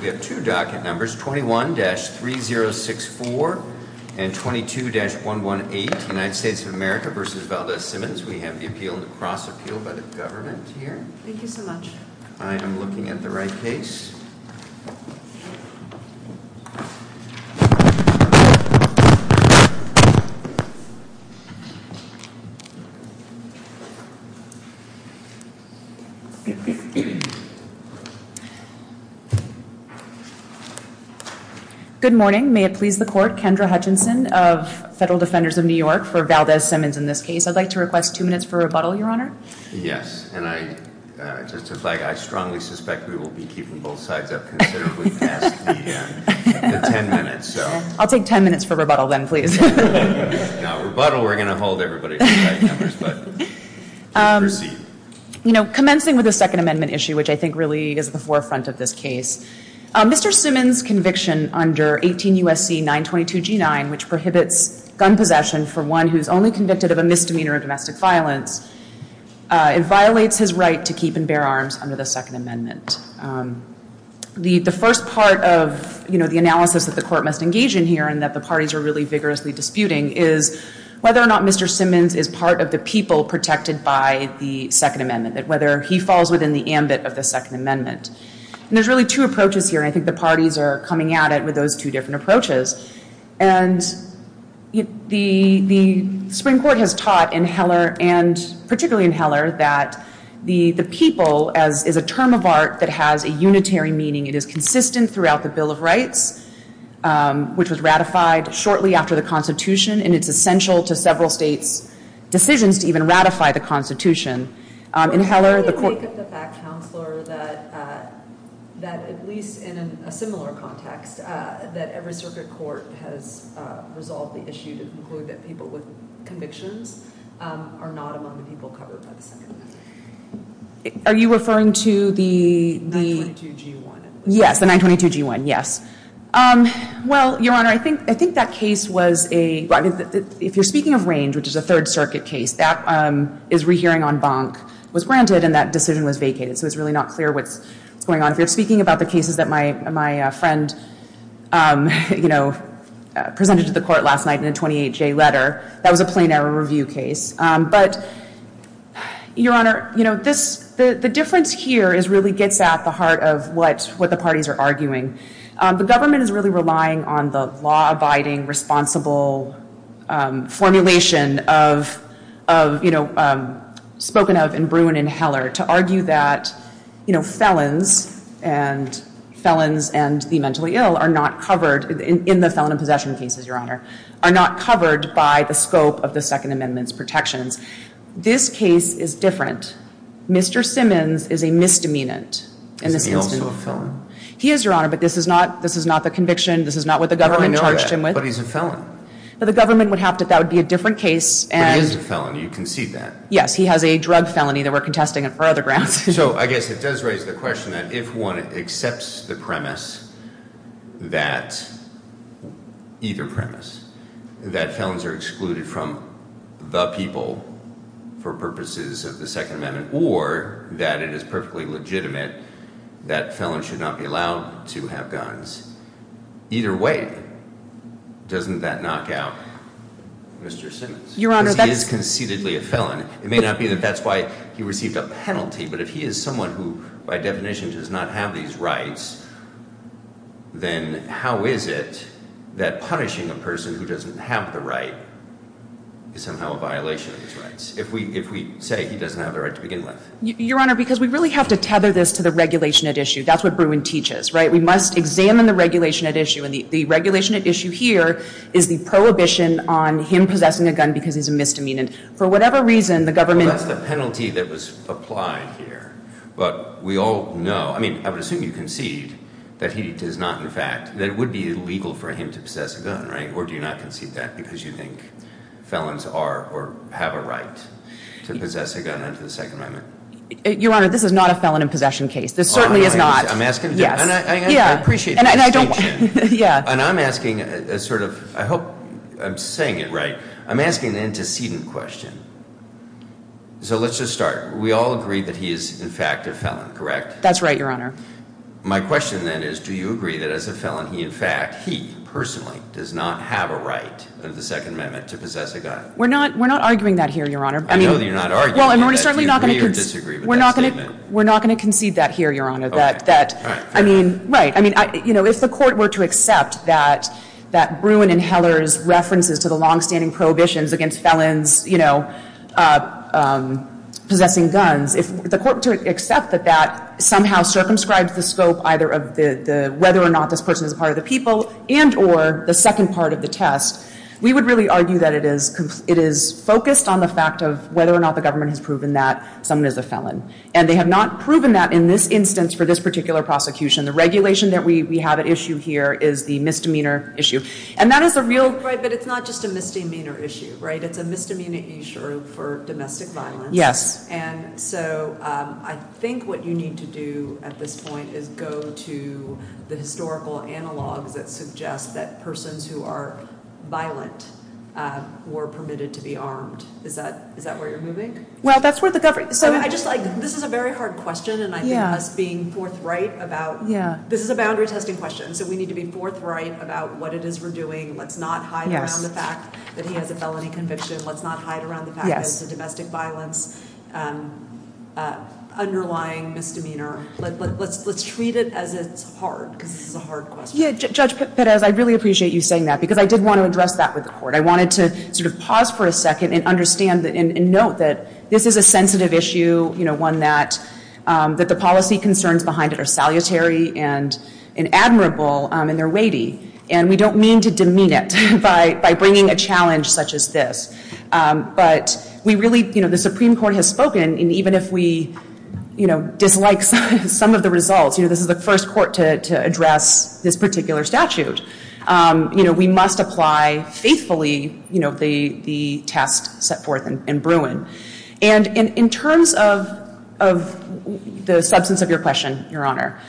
We have two docket numbers, 21-3064 and 22-118, United States of America v. Valdez-Simmons. We have the appeal, the cross-appeal by the government here. Thank you so much. I am looking at the right case. Good morning. May it please the court, Kendra Hutchinson of Federal Defenders of New York for Valdez-Simmons in this case. I'd like to request two minutes for rebuttal, Your Honor. Yes, and I strongly suspect we will be keeping both sides up considerably past the end. Ten minutes. I'll take ten minutes for rebuttal then, please. Now, rebuttal, we're going to hold everybody to the right numbers. Commencing with the Second Amendment issue, which I think really is the forefront of this case, Mr. Simmons' conviction under 18 U.S.C. 922-G9, which prohibits gun possession for one who is only convicted of a misdemeanor of domestic violence, it violates his right to keep and bear arms under the Second Amendment. The first part of the analysis that the court must engage in here, and that the parties are really vigorously disputing, is whether or not Mr. Simmons is part of the people protected by the Second Amendment, whether he falls within the ambit of the Second Amendment. And there's really two approaches here, and I think the parties are coming at it with those two different approaches. And the Supreme Court has taught in Heller, and particularly in Heller, that the people is a term of art that has a unitary meaning. It is consistent throughout the Bill of Rights, which was ratified shortly after the Constitution, and it's essential to several states' decisions to even ratify the Constitution. In Heller, the court... Are you referring to the... 922-G1. Yes, the 922-G1, yes. Well, Your Honor, I think that case was a... If you're speaking of Range, which is a Third Circuit case, that is rehearing on bonk. It was granted, and that decision was vacated, so it's really not clear what's going on. If you're speaking about the cases that my friend, you know, presented to the court last night in a 28-J letter, that was a plain error review case. But, Your Honor, you know, this... The difference here is really gets at the heart of what the parties are arguing. The government is really relying on the law-abiding, responsible formulation of, you know, spoken of in Bruin and Heller to argue that, you know, felons, and felons and the mentally ill are not covered, in the felon and possession cases, Your Honor, are not covered by the scope of the Second Amendment's protection. This case is different. Mr. Simmons is a misdemeanant. Is he also a felon? He is, Your Honor, but this is not the conviction. This is not what the government charged him with. But he's a felon. But the government would have to... That would be a different case, and... But he is a felon. You can see that. Yes, he has a drug felony that we're contesting on our other grounds. So, I guess it does raise the question that if one accepts the premise that... either premise, that felons are excluded from the people for purposes of the Second Amendment, or that it is perfectly legitimate that felons should not be allowed to have guns, either way, doesn't that knock out Mr. Simmons? He is conceitedly a felon. It may not be that that's why he received a penalty, but if he is someone who, by definition, does not have these rights, then how is it that punishing a person who doesn't have the right is somehow a violation of his rights if we say he doesn't have the right to begin with? Your Honor, because we really have to tether this to the regulation at issue. That's what Bruin teaches. We must examine the regulation at issue. The regulation at issue here is the prohibition on him possessing a gun because he's a misdemeanant. For whatever reason, the government... That's the penalty that was applied here. But we all know... I mean, I would assume you concede that it would be illegal for him to possess a gun, right? Or do you not concede that because you think felons have a right to possess a gun under the Second Amendment? Your Honor, this is not a felon in possession case. This certainly is not. I appreciate that. And I'm asking a sort of... I hope I'm saying it right. I'm asking an antecedent question. So let's just start. We all agree that he is, in fact, a felon, correct? That's right, Your Honor. My question, then, is do you agree that as a felon, he, in fact, he, personally, does not have a right under the Second Amendment to possess a gun? We're not arguing that here, Your Honor. I know that you're not arguing that. Do you agree or disagree with that statement? We're not going to concede that here, Your Honor. Right. If the Court were to accept that Bruin and Heller's references to the long-standing prohibitions against felons possessing guns, if the Court were to accept that that somehow circumscribes the scope of whether or not this person is a part of the people and or the second part of the test, we would really argue that it is focused on the fact of whether or not the government has proven that someone is a felon. And they have not proven that in this instance for this particular prosecution. The regulation that we have at issue here is the misdemeanor issue. But it's not just a misdemeanor issue, right? It's a misdemeanor issue for domestic violence. And so, I think what you need to do at this point is go to the historical analog that suggests that persons who are violent were permitted to be armed. Is that where you're moving? Well, that's where the government... This is a very hard question, and I think us being forthright about... This is a boundary-testing question, so we need to be forthright about what it is we're doing. Let's not hide around the fact that he has a felony conviction. Let's not hide around the fact that it's a domestic violence underlying misdemeanor. Let's treat it as it's hard, because it's a hard question. Judge Perez, I really appreciate you saying that, because I did want to address that with the Court. I wanted to pause for a second and understand and note that this is a sensitive issue, one that the policy concerns behind it are salutary and admirable in their weighty. And we don't mean to demean it by bringing a challenge such as this. But we really... The Supreme Court has spoken, and even if we dislike some of the results, this is the first court to address this particular statute. We must apply faithfully the test set forth in Bruin. And in terms of the substance of your question, Your Honor,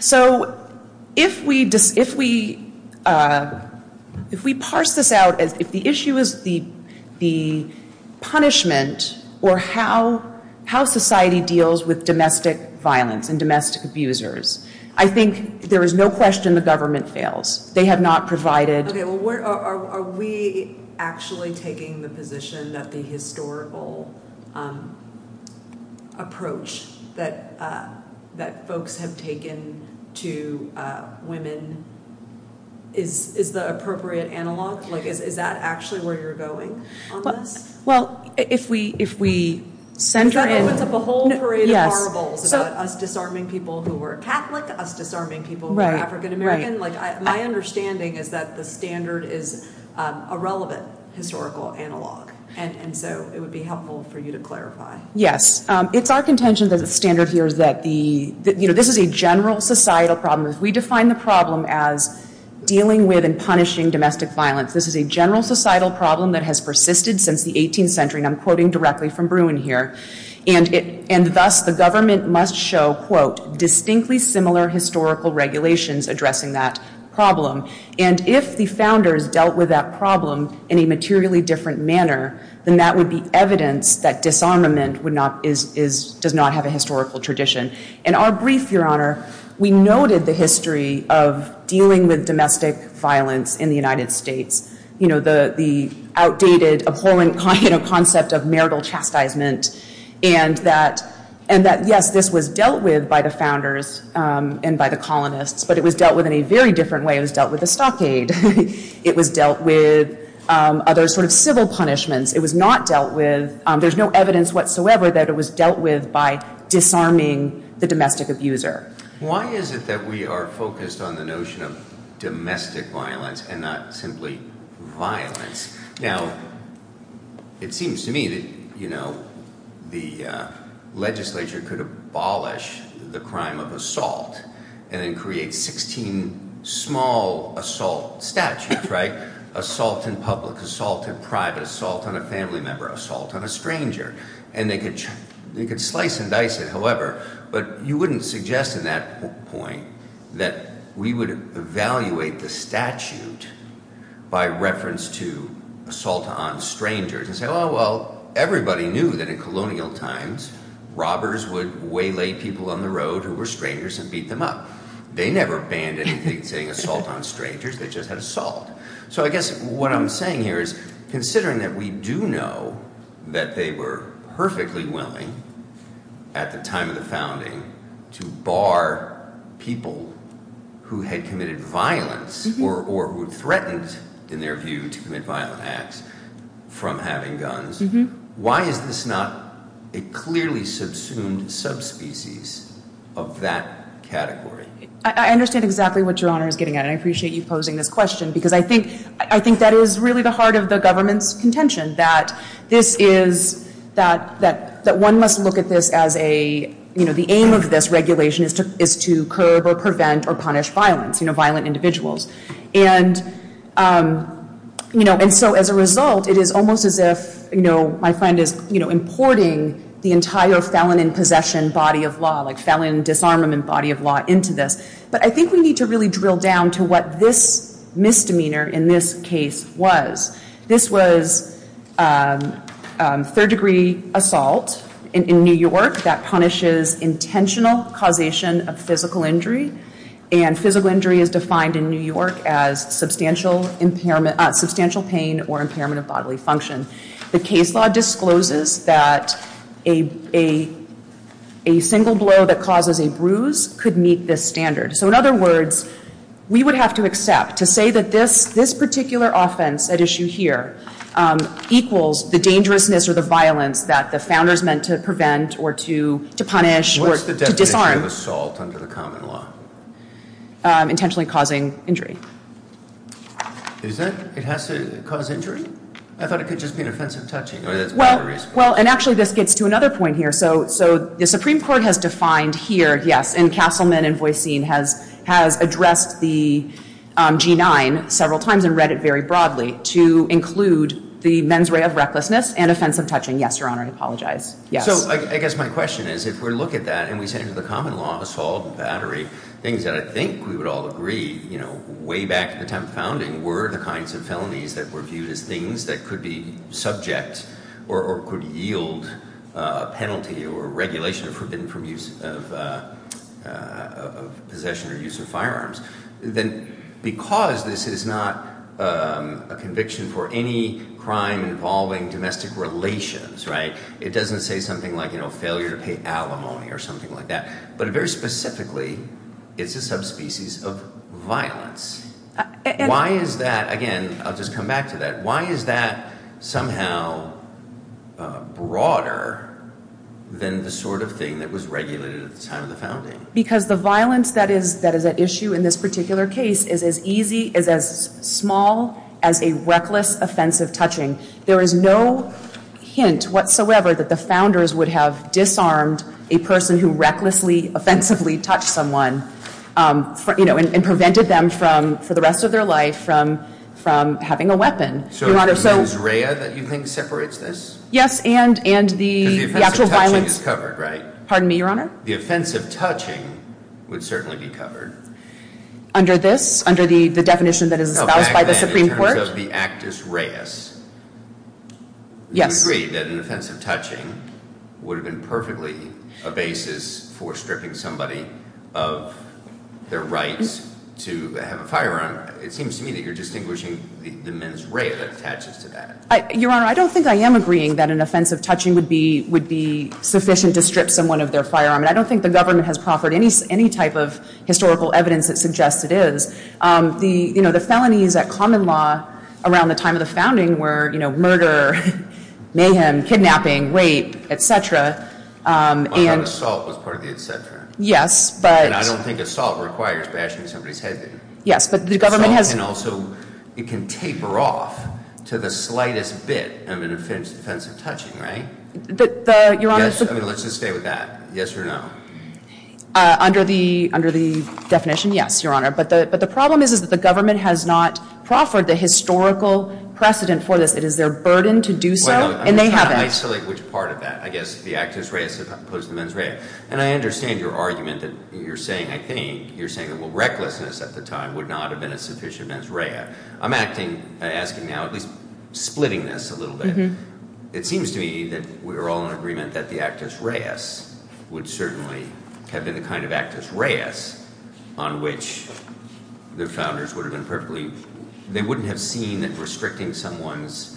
so if we parse this out as if the issue is the punishment or how society deals with domestic violence and domestic abusers, I think there is no question the government fails. They have not provided... Are we actually taking the position that the historical approach that folks have taken to women is the appropriate analog? Is that actually where you're going? Well, if we center... It's a whole parade of horribles. Us disarming people who were Catholic, us disarming people who were African-American. My understanding is that the standard is irrelevant to historical analog. And so it would be helpful for you to clarify. Yes. It's our contention that the standard here is that this is a general societal problem. We define the problem as dealing with and punishing domestic violence. This is a general societal problem that has persisted since the 18th century, and I'm quoting directly from Bruin here. And thus, the government must show distinctly similar historical regulations addressing that problem. And if the founders dealt with that problem in a materially different manner, then that would be evidence that disarmament does not have a historical tradition. In our brief, Your Honor, we noted the history of dealing with domestic violence in the United States. The outdated, appalling concept of marital chastisement, and that yes, this was dealt with by the founders and by the colonists, but it was dealt with in a very different way. It was dealt with as stockade. It was dealt with other sort of civil punishment. It was not dealt with. There's no evidence whatsoever that it was dealt with by disarming the domestic abuser. Why is it that we are focused on the notion of domestic violence and not simply violence? Now, it seems to me that, you know, the legislature could abolish the crime of assault and then create 16 small assault statutes, right? Assault in public, assault in private, assault on a family member, assault on a stranger. And they could slice and dice it, however, but you wouldn't suggest at that point that we would evaluate the statute by reference to assault on strangers and say, oh, well, everybody knew that in colonial times robbers would waylay people on the road who were strangers and beat them up. They never banned anything saying assault on strangers. They just had assault. So I guess what I'm saying here is, considering that we do know that they were perfectly willing at the time of the founding to bar people who had committed violence or who threatened, in their view, to commit violent acts from having guns, why is this not a clearly subsumed subspecies of that category? I understand exactly what your Honor is getting at, and I appreciate you posing this question because I think that is really the heart of the government's contention, that this is that one must look at this as a, you know, the only way to curb or prevent or punish violence, you know, violent individuals. And, you know, and so as a result, it is almost as if, you know, my friend is, you know, importing the entire felon-in-possession body of law, like felon-disarmament body of law into this. But I think we need to really drill down to what this misdemeanor in this case was. This was third-degree assault in New York that punishes intentional causation of physical injury, and physical injury is defined in New York as substantial impairment, substantial pain or impairment of bodily function. The case law discloses that a single blow that causes a bruise could meet this standard. So in other words, we would have to accept to say that this particular offense at issue here equals the dangerousness or the violence that the founder is meant to prevent or to punish or to disarm. What is the definition of assault under the common law? Intentionally causing injury. Is it? It has to cause injury? I thought it could just be an offensive touching. Well, and actually this gets to another point here. So the Supreme Court has defined here, yes, and Castleman and Boissin has addressed the G-9 several times and read it very broadly to include the mens rea of recklessness and a sense of touching. Yes, Your Honor, I apologize. So I guess my question is if we look at that and we say to the common law of assault and battery, things that I think we would all agree way back to the time of founding were the kinds of penalties that were viewed as things that could be subject or could yield a penalty or regulation of use of possession or use of firearms, then because this is not a conviction for any crime involving domestic relations, right? It doesn't say something like failure to pay alimony or something like that. But very specifically, it's a subspecies of violence. Why is that, again, I'll just come back to that, why is that somehow broader than the sort of thing that was regulated at the time of the founding? Because the violence that is an issue in this particular case is as easy, is as simple as a reckless, offensive touching. There is no hint whatsoever that the founders would have disarmed a person who recklessly, offensively touched someone and prevented them from, for the rest of their life, from having a weapon. Your Honor, so— So is it Israel that you think separates this? Yes, and the actual violence— The offensive touching is covered, right? Pardon me, Your Honor? The offensive touching would certainly be covered. Under this? Under the definition that is about by the Supreme Court? No, the actus reus. Yes. Do you agree that an offensive touching would have been perfectly a basis for stripping somebody of their rights to have a firearm? It seems to me that you're distinguishing the mens rea that attaches to that. Your Honor, I don't think I am agreeing that an offensive touching would be sufficient to strip someone of their firearm. And I don't think the government has historical evidence that suggests it is. The, you know, the felonies at common law around the time of the founding were, you know, murder, mayhem, kidnapping, rape, etc. Assault was part of the etc. Yes, but— And I don't think assault requires bashing somebody's head in. Yes, but the government has— And also, it can taper off to the slightest bit of an offensive touching, right? Your Honor— Let's just stay with that. Yes or no? Under the definition, yes, Your Honor. But the problem is that the government has not proffered the historical precedent for this. It is their burden to do so, and they haven't. I would like to select which part of that. I guess the actus reus is opposed to the mens rea. And I understand your argument that you're saying, I think, you're saying that recklessness at the time would not have been a sufficient mens rea. I'm asking now, splitting this a little bit. It seems to me that we're all in agreement that the actus reus would certainly have been the kind of actus reus on which their founders would have been perfectly— They wouldn't have seen that restricting someone's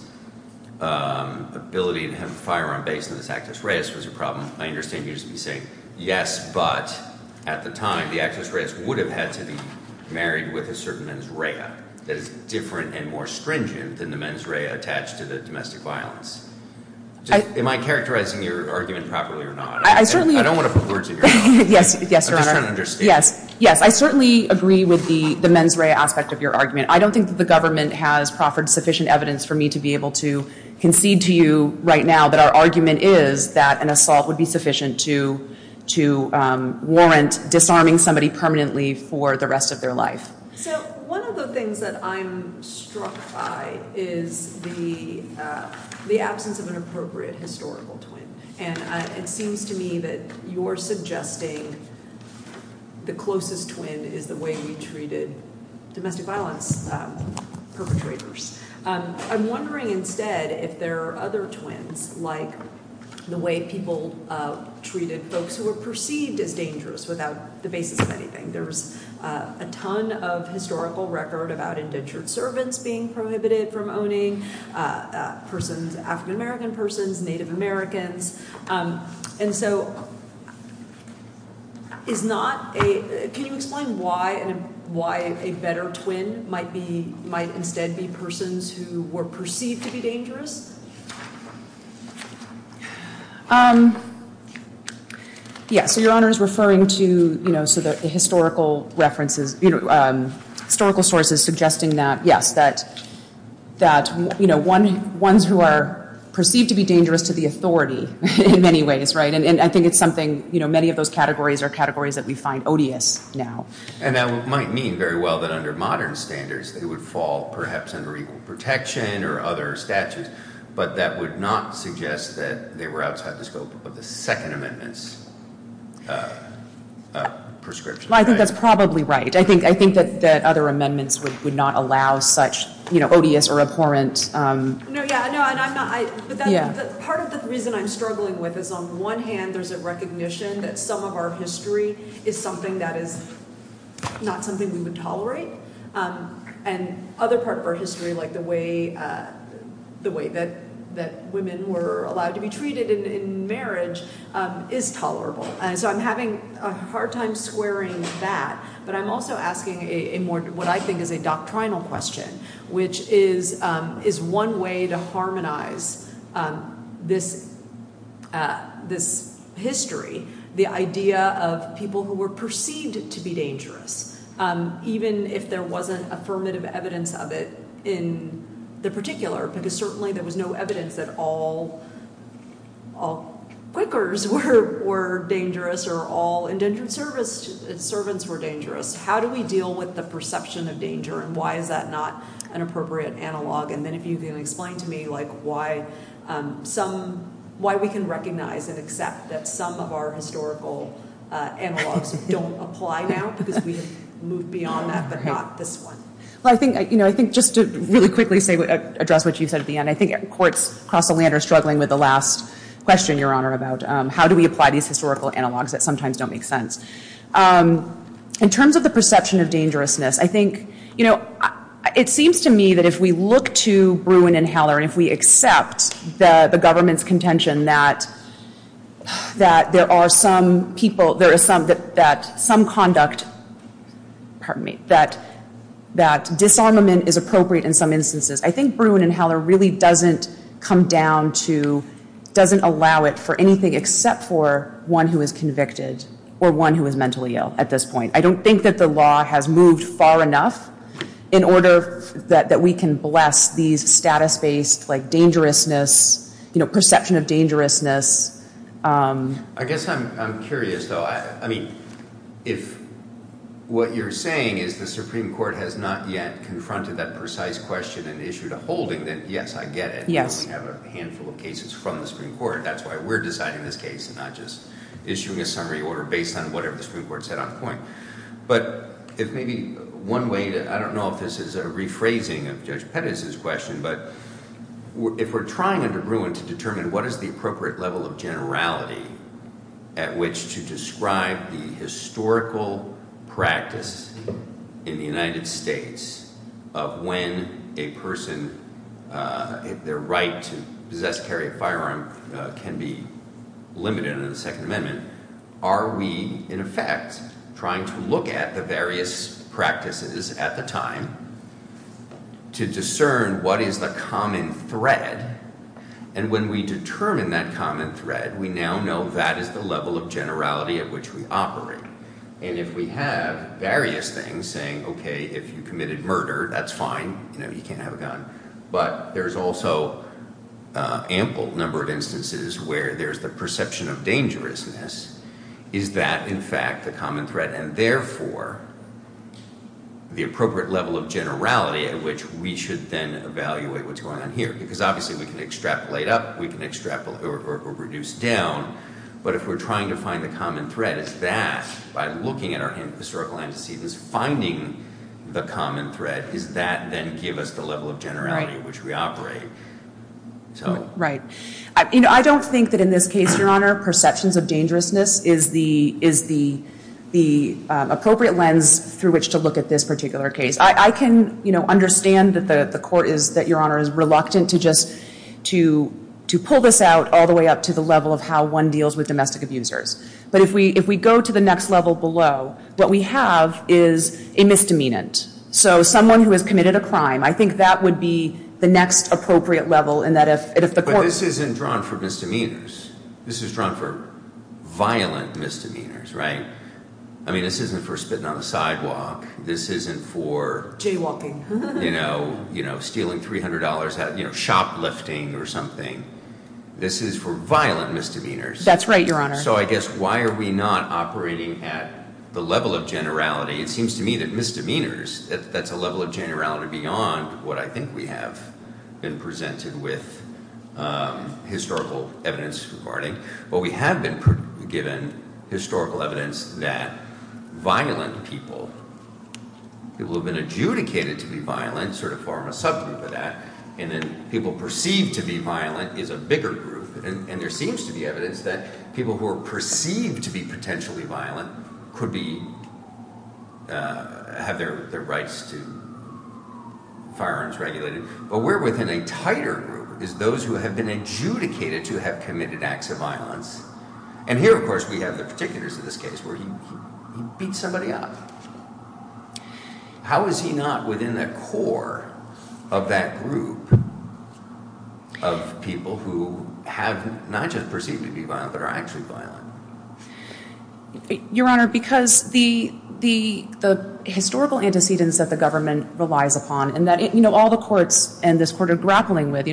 ability to have a firearm based on this actus reus was a problem. I understand you're saying, yes, but at the time, the actus reus would have had to be married with a certain mens rea that is different and more stringent than the mens rea attached to the domestic violence. Am I characterizing your argument properly or not? I don't want to pervert you. Yes, Your Honor. Yes, I certainly agree with the mens rea aspect of your argument. I don't think the government has proffered sufficient evidence for me to be able to concede to you right now that our argument is that an assault would be sufficient to warrant disarming somebody permanently for the rest of their life. One of the things that I'm struck by is the absence of an appropriate historical twin. It seems to me that you're suggesting the closest twin is the way you treated domestic violence perpetrators. I'm wondering instead if there are other twins like the way people treated folks who were perceived as dangerous without the basis of anything. There's a ton of historical record about indentured servants being prohibited from owning, persons, African American persons, Native Americans, and so it's not a, can you explain why a better twin might instead be persons who were perceived to be dangerous? Yes, Your Honor is referring to the historical references, historical sources suggesting that that, you know, ones who are perceived to be dangerous to the authority in many ways, right, and I think it's something, you know, many of those categories are categories that we find odious now. And that might mean very well that under modern standards they would fall perhaps under equal protection or other statutes, but that would not suggest that they were outside the scope of the Second Amendment's prescription. I think that's probably right. I think that other amendments would not allow such, you know, odious or abhorrent... Part of the reason I'm struggling with is on one hand there's a recognition that some of our history is something that is not something we would tolerate, and other parts of our history like the way the way that women were allowed to be treated in marriage is tolerable, and so I'm having a hard time squaring that, but I'm also asking what I think is a doctrinal question, which is one way to harmonize this history, the idea of people who were perceived to be dangerous, even if there wasn't affirmative evidence of it in the particular, because certainly there was no evidence that all all clickers were dangerous or all indentured servants were dangerous. How do we deal with the perception of danger, and why is that not an appropriate analog, and then if you can explain to me why we can recognize and accept that some of our historical analogs don't apply now, because we've moved beyond that, but not this one. I think just to really quickly address what you said at the end, I think courts across the land are struggling with the last question, Your Honor, about how do we recognize historical analogs that sometimes don't make sense. In terms of the perception of dangerousness, I think it seems to me that if we look to Bruin and Heller and if we accept the government's contention that there are some people, that some conduct, that disarmament is appropriate in some instances, I think Bruin and Heller really doesn't come down to, doesn't allow it for anything except for one who is convicted, or one who is mentally ill at this point. I don't think that the law has moved far enough in order that we can bless these status-based dangerousness, perception of dangerousness. I guess I'm curious though, I mean, if what you're saying is the Supreme Court has not yet confronted that precise question and issued a holding, then yes, I get it. We have a handful of cases from the Supreme Court. That's why we're deciding this case and not just issuing a summary order based on whatever the Supreme Court said on the point. But if maybe one way, I don't know if this is a rephrasing of Judge Pettis' question, but if we're trying under Bruin to determine what is the appropriate level of generality at which to describe the historical practice in the United States of when a right to possess, carry a firearm can be limited in the Second Amendment, are we in effect trying to look at the various practices at the time to discern what is the common thread? And when we determine that common thread, we now know that is the level of generality at which we operate. And if we have various things saying, okay, if you committed murder, that's fine. You can't have a gun. But there's also ample number of instances where there's the perception of dangerousness. Is that, in fact, the common thread? And therefore, the appropriate level of generality at which we should then evaluate what's going on here. Because obviously we can extract late up, we can extract or reduce down. But if we're trying to find the common thread, if that, by looking at our historical antecedents, finding the common thread, does that then give us the level of generality at which we operate? Right. I don't think that in this case, Your Honor, perceptions of dangerousness is the appropriate lens through which to look at this particular case. I can understand that the Court is reluctant to just pull this out all the way up to the level of how one deals with domestic abusers. But if we go to the next level below, what we have is a misdemeanant. So someone who has committed a crime, I think that would be the next appropriate level. But this isn't drawn for misdemeanors. This is drawn for violent misdemeanors, right? I mean, this isn't for spitting on the sidewalk. This isn't for jaywalking, you know, stealing $300, shoplifting or something. This is for violent misdemeanors. That's right, Your Honor. So I guess, why are we not operating at the level of generality? It seems to me that misdemeanors, that's a level of generality beyond what I think we have been presented with historical evidence regarding. But we have been given historical evidence that violent people, people who have been adjudicated to be violent, sort of form a subgroup of that, and that people perceived to be violent is a bigger group. And there seems to be evidence that people who are perceived to be potentially violent could be, have their rights to firearms regulated. But we're within a tighter group of those who have been adjudicated to have committed acts of violence. And here, of course, we have the particulars of this case where you beat somebody up. How is he not within the core of that group of people who have not just perceived to be violent, but are actually violent? Your Honor, because the historical antecedents that the government relies upon, and that all the courts and this Court are grappling with,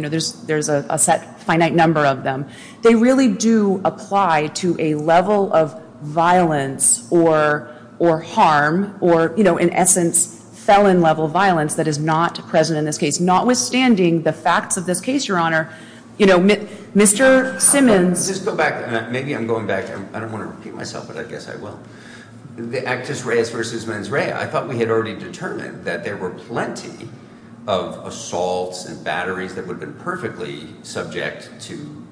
there's a finite number of them, they really do apply to a level of violence or harm or, in essence, felon-level violence that is not present in this case, notwithstanding the facts of this case, Your Honor. You know, Mr. Simmons... I'll just go back. Maybe I'm going back. I don't want to repeat myself, but I guess I will. The Actus Reis versus mens rea, I thought we had already determined that there were plenty of assaults and batteries that would have been perfectly subject to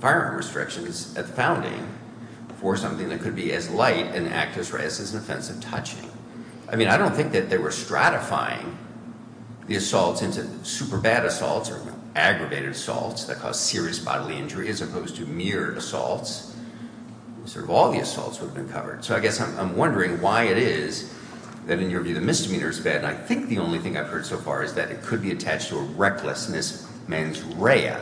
firearm restrictions as founding for something that could be as light in Actus Reis as offensive touching. I mean, I don't think that they were stratifying the assaults into super bad assaults or aggravated assaults that caused serious bodily injury as opposed to mere assaults. All the assaults would have been covered. So I guess I'm wondering why it is that injury to the misdemeanor is bad. I think the only thing I've heard so far is that it could be attached to a recklessness mens rea.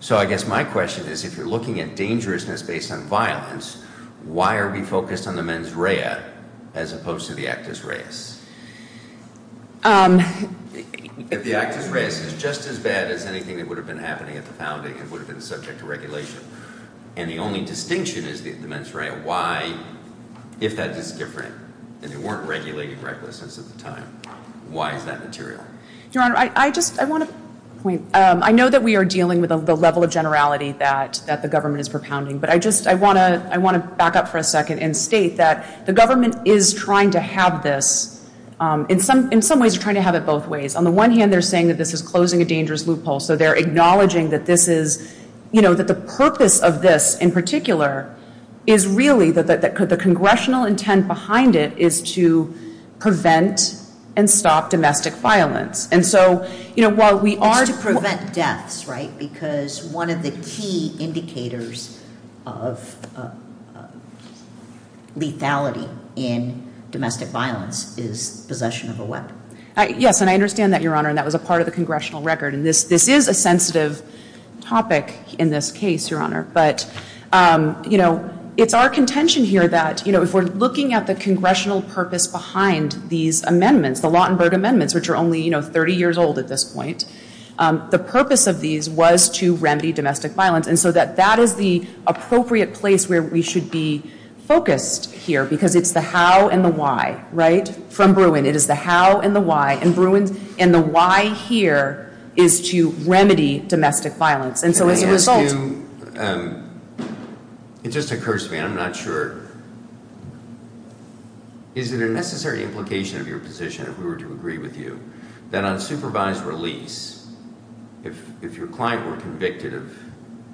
So I guess my question is, if you're looking at dangerousness based on violence, why are we focused on the mens rea as opposed to the Actus Reis? If the Actus Reis is just as bad as anything that would have been happening at the founding, it would have been subject to regulation. And the only distinction is the mens rea. Why, if that is different, if there weren't regulated recklessness at the time, why is that material? Your Honor, I just, I want to, I know that we are dealing with the level of generality that the government is propounding, but I just, I want to back up for a second and state that the government is trying to have this in some ways, trying to have it both ways. On the one hand, they're saying that this is closing a dangerous loophole, so they're acknowledging that this is, you know, that the purpose of this in particular is really that the Congressional intent behind it is to prevent and stop domestic violence. And so, you know, while we are... To prevent deaths, right? Because one of the key indicators of lethality in is possession of a weapon. Yes, and I understand that, Your Honor, and that was a part of the Congressional record, and this is a sensitive topic in this case, Your Honor, but, you know, it's our contention here that you know, if we're looking at the Congressional purpose behind these amendments, the Lawtenberg amendments, which are only, you know, 30 years old at this point, the purpose of these was to remedy domestic violence, and so that that is the appropriate place where we should be focused here, because it's the how and the why, right? From Bruin, it is the how and the why, and Bruin, and the why here is to remedy domestic violence, and so as a result... It just occurs to me, I'm not sure... Is there a necessary implication of your position if we were to agree with you, that on supervised release, if your client were convicted of,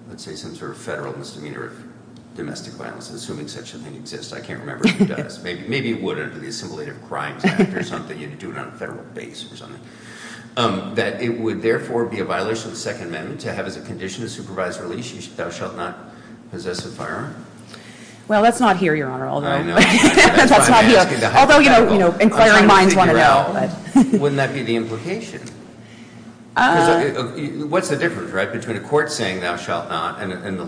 let's say, some sort of federal misdemeanor of domestic violence, assuming such a thing exists, I can't remember if it does, maybe it would under the assimilated crimes act or something, you'd do it on a federal base or something, that it would therefore be a violation of the Second Amendment to have as a condition of supervised release, he thou shalt not possess a firearm? Well, that's not here, Your Honor, although... Although, you know, inquiring minds want to know, but... Wouldn't that be the implication? What's the difference, right, between a court saying thou shalt not and the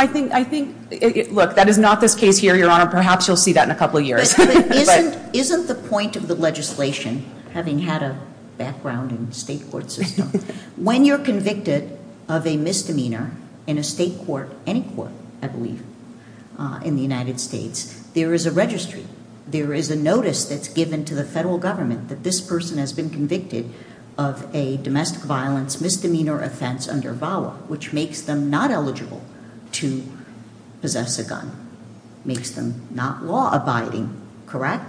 I think... Look, that is not this case here, Your Honor, perhaps you'll see that in a couple of years. Isn't the point of the legislation, having had a background in the state court system, when you're convicted of a misdemeanor in a state court, any court, I believe, in the United States, there is a registry, there is a notice that's given to the federal government that this person has been convicted of a domestic violence misdemeanor offense under VAWA, which makes them not eligible to possess a gun. Makes them not law-abiding, correct?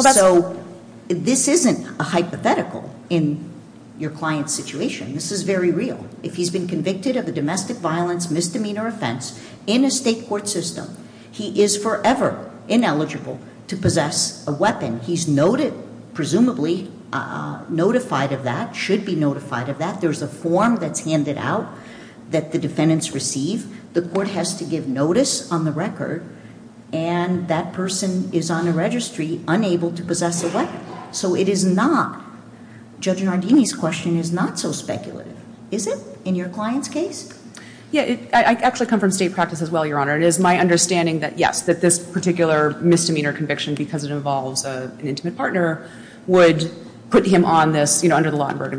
So, this isn't a hypothetical in your client's situation. This is very real. If he's been convicted of a domestic violence misdemeanor offense in a state court system, he is forever ineligible to possess a weapon. He's noted, presumably, notified of that, should be notified of that. There's a form that's handed out that the defendants receive. The court has to give notice on the record, and that person is on a registry, unable to possess a weapon. So it is not, Judge Nardini's question is not so speculative, is it, in your client's case? Yeah, I actually come from state practice as well, Your Honor. It is my understanding that, yes, that this particular misdemeanor conviction, because it involves an intimate partner, would put him on this, you know, under the law and But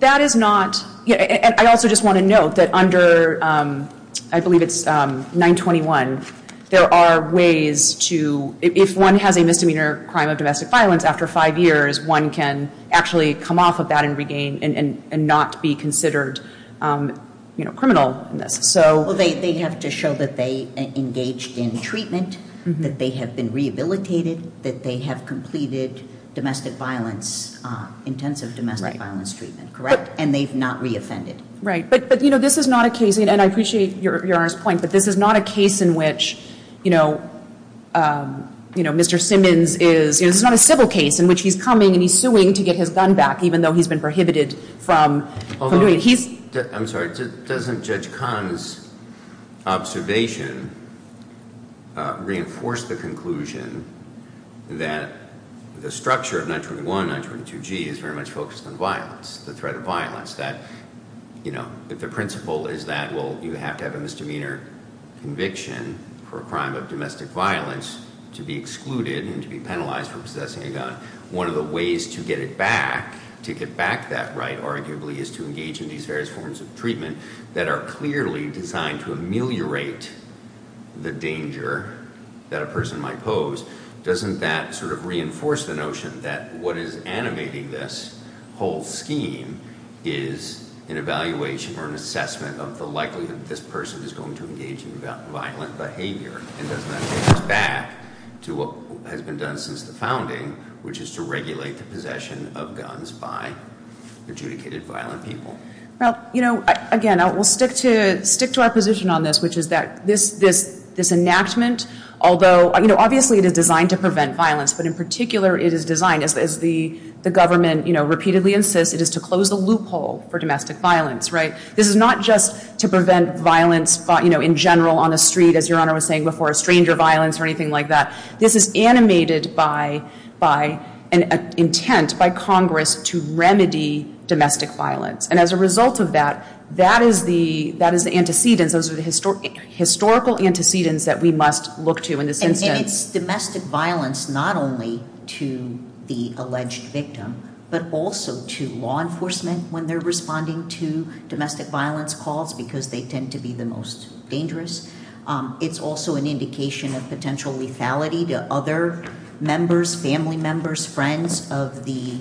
that is not I also just want to note that under, I believe it's 921, there are ways to if one has a misdemeanor crime of domestic violence, after five years, one can actually come off of that and regain and not be considered criminal. Well, they have to show that they engaged in treatment, that they have been rehabilitated, that they have completed domestic violence, intensive domestic violence treatment, correct? And they've not reoffended. Right. But, you know, this is not a case, and I appreciate Your Honor's point, but this is not a case in which you know, you know, Mr. Simmons is it's not a civil case in which he's coming and he's suing to get his gun back, even though he's been prohibited from I'm sorry, doesn't Judge Kahn's observation reinforce the conclusion that the structure of 921, 922G is very much focused on violence, the threat of violence that, you know, the principle is that, well, you have to have a misdemeanor conviction for a crime of domestic violence to be excluded and to be penalized for possessing a gun. One of the ways to get it back, to get back that right, arguably, is to engage in these various forms of treatment that are clearly designed to ameliorate the danger that a person might pose. Doesn't that sort of reinforce the notion that what is animating this whole scheme is an evaluation or an assessment of the likelihood that this person is going to engage in violent behavior, and doesn't that take us back to what has been done since the founding, which is to regulate the possession of guns by adjudicated violent people? Well, you know, again, I will stick to our position on this, which is that this enactment, although, you know, obviously it is designed to prevent violence, but in particular, it is designed, as the government repeatedly insists, it is to close the loophole for domestic violence, right? This is not just to prevent violence in general on the street, as Your Honor was saying before, stranger violence or anything like that. This is animated by an intent by Congress to remedy domestic violence, and as a result of that, that is the antecedent, those are the historical antecedents that we must look to in this instance. And it's domestic violence not only to the alleged victim, but also to law enforcement when they're responding to domestic violence calls, because they tend to be the most dangerous. It's also an indication of potential lethality to other members, family members, friends of the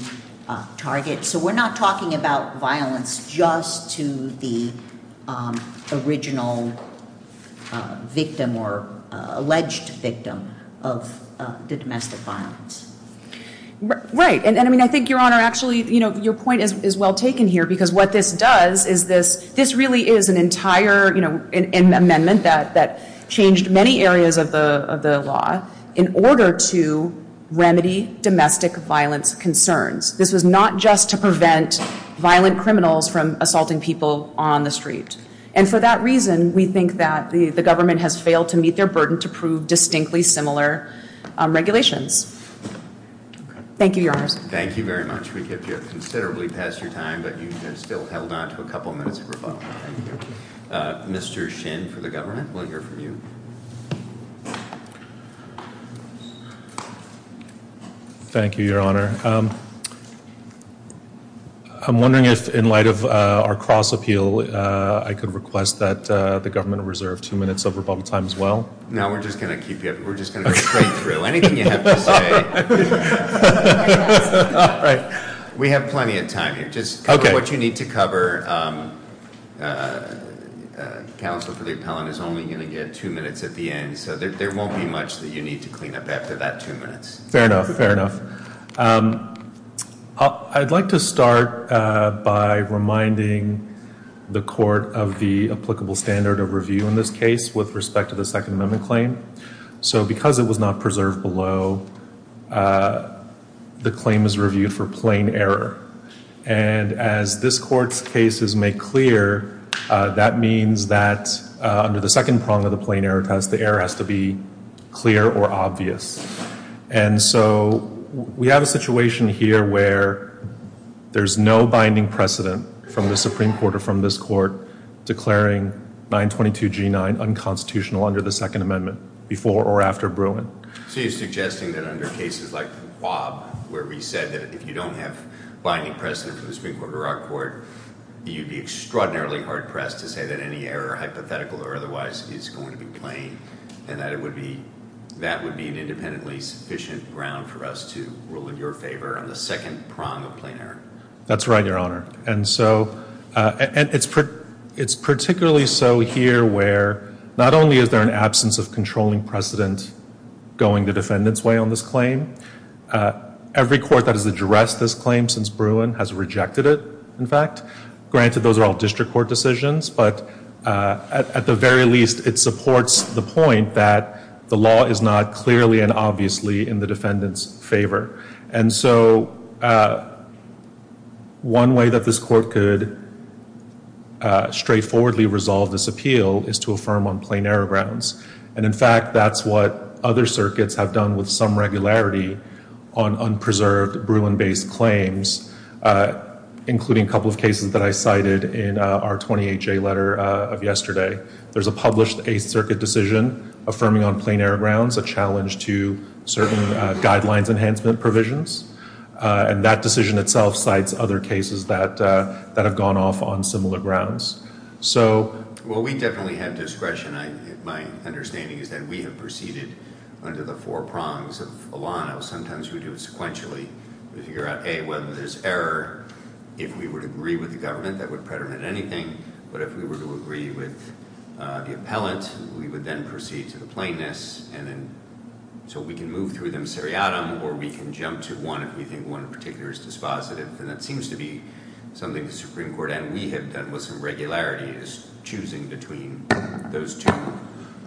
target. So we're not talking about violence just to the original victim or alleged victim of the domestic violence. Right, and I think Your Honor, actually, your point is well taken here, because what this does is this really is an entire amendment that changed many areas of the law in order to remedy domestic violence concerns. This is not just to prevent violent people on the street. And for that reason, we think that the government has failed to meet their burden to prove distinctly similar regulations. Thank you, Your Honor. Thank you very much. We have considerably passed your time, but you still have a couple minutes left. Mr. Shin for the government, we'll hear from you. Thank you, Your Honor. I'm wondering if in light of our cross-appeal, I could request that the government reserve two minutes of rebuttal time as well? No, we're just going to be straight through. Anything you have to say. We have plenty of time here. Just cover what you need to cover. Counsel for the appellant is only going to get two minutes at the end, so there won't be much that you need to clean up after that two minutes. Fair enough, fair enough. I'd like to start by reminding the court of the applicable standard of review in this case with respect to the Second Amendment claim. Because it was not preserved below, the claim is reviewed for plain error. And as this court's case is made clear, that means that under the second prong of the plain error test, the error has to be clear or obvious. And so we have a situation here where there's no binding precedent from the Supreme Court or from this court declaring 922 G9 unconstitutional under the Second Amendment before or after Bruin. So you're suggesting that under cases like the Plob, where we said that if you don't have binding precedent for the Supreme Court or our court, you'd be extraordinarily hard-pressed to say that any error, hypothetical or otherwise, is going to be plain, and that would be an independently sufficient ground for us to rule in your favor on the second prong of plain error? That's right, Your Honor. And so, it's particularly so here where not only is there an absence of controlling precedent going the defendant's way on this claim, every court that has addressed this claim since Bruin has rejected it, in fact. Granted, those are all district court decisions, but at the very least, it supports the point that the law is not clearly and obviously in the defendant's favor. And so, one way that this court could straightforwardly resolve this appeal is to affirm on plain error grounds. And in fact, that's what other circuits have done with some regularity on unpreserved Bruin-based claims, including a couple of cases that I cited in our 28-J letter of yesterday. There's a published Eighth Circuit decision affirming on plain error grounds a challenge to certain guidelines enhancement provisions, and that decision itself cites other cases that have gone off on similar grounds. So... Well, we definitely have discretion. My understanding is that we have proceeded under the four prongs of Milano. Sometimes we do it sequentially to figure out, A, whether there's error. If we would agree with the government, that we would agree with the appellant, we would then proceed to the plaintiffs, and then... So we can move through them seriatim, or we can jump to one if we think one particular is dispositive. And that seems to be something the Supreme Court and we have done with some regularity, is choosing between those two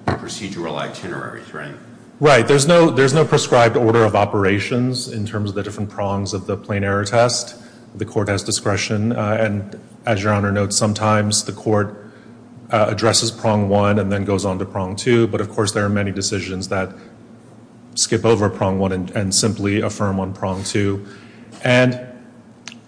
procedural itinerary frames. Right. There's no prescribed order of operations in terms of the different prongs of the plain error test. The court has discretion, and as Your Honor notes, sometimes the court addresses prong one and then goes on to prong two, but of course there are many decisions that skip over prong one and simply affirm on prong two. And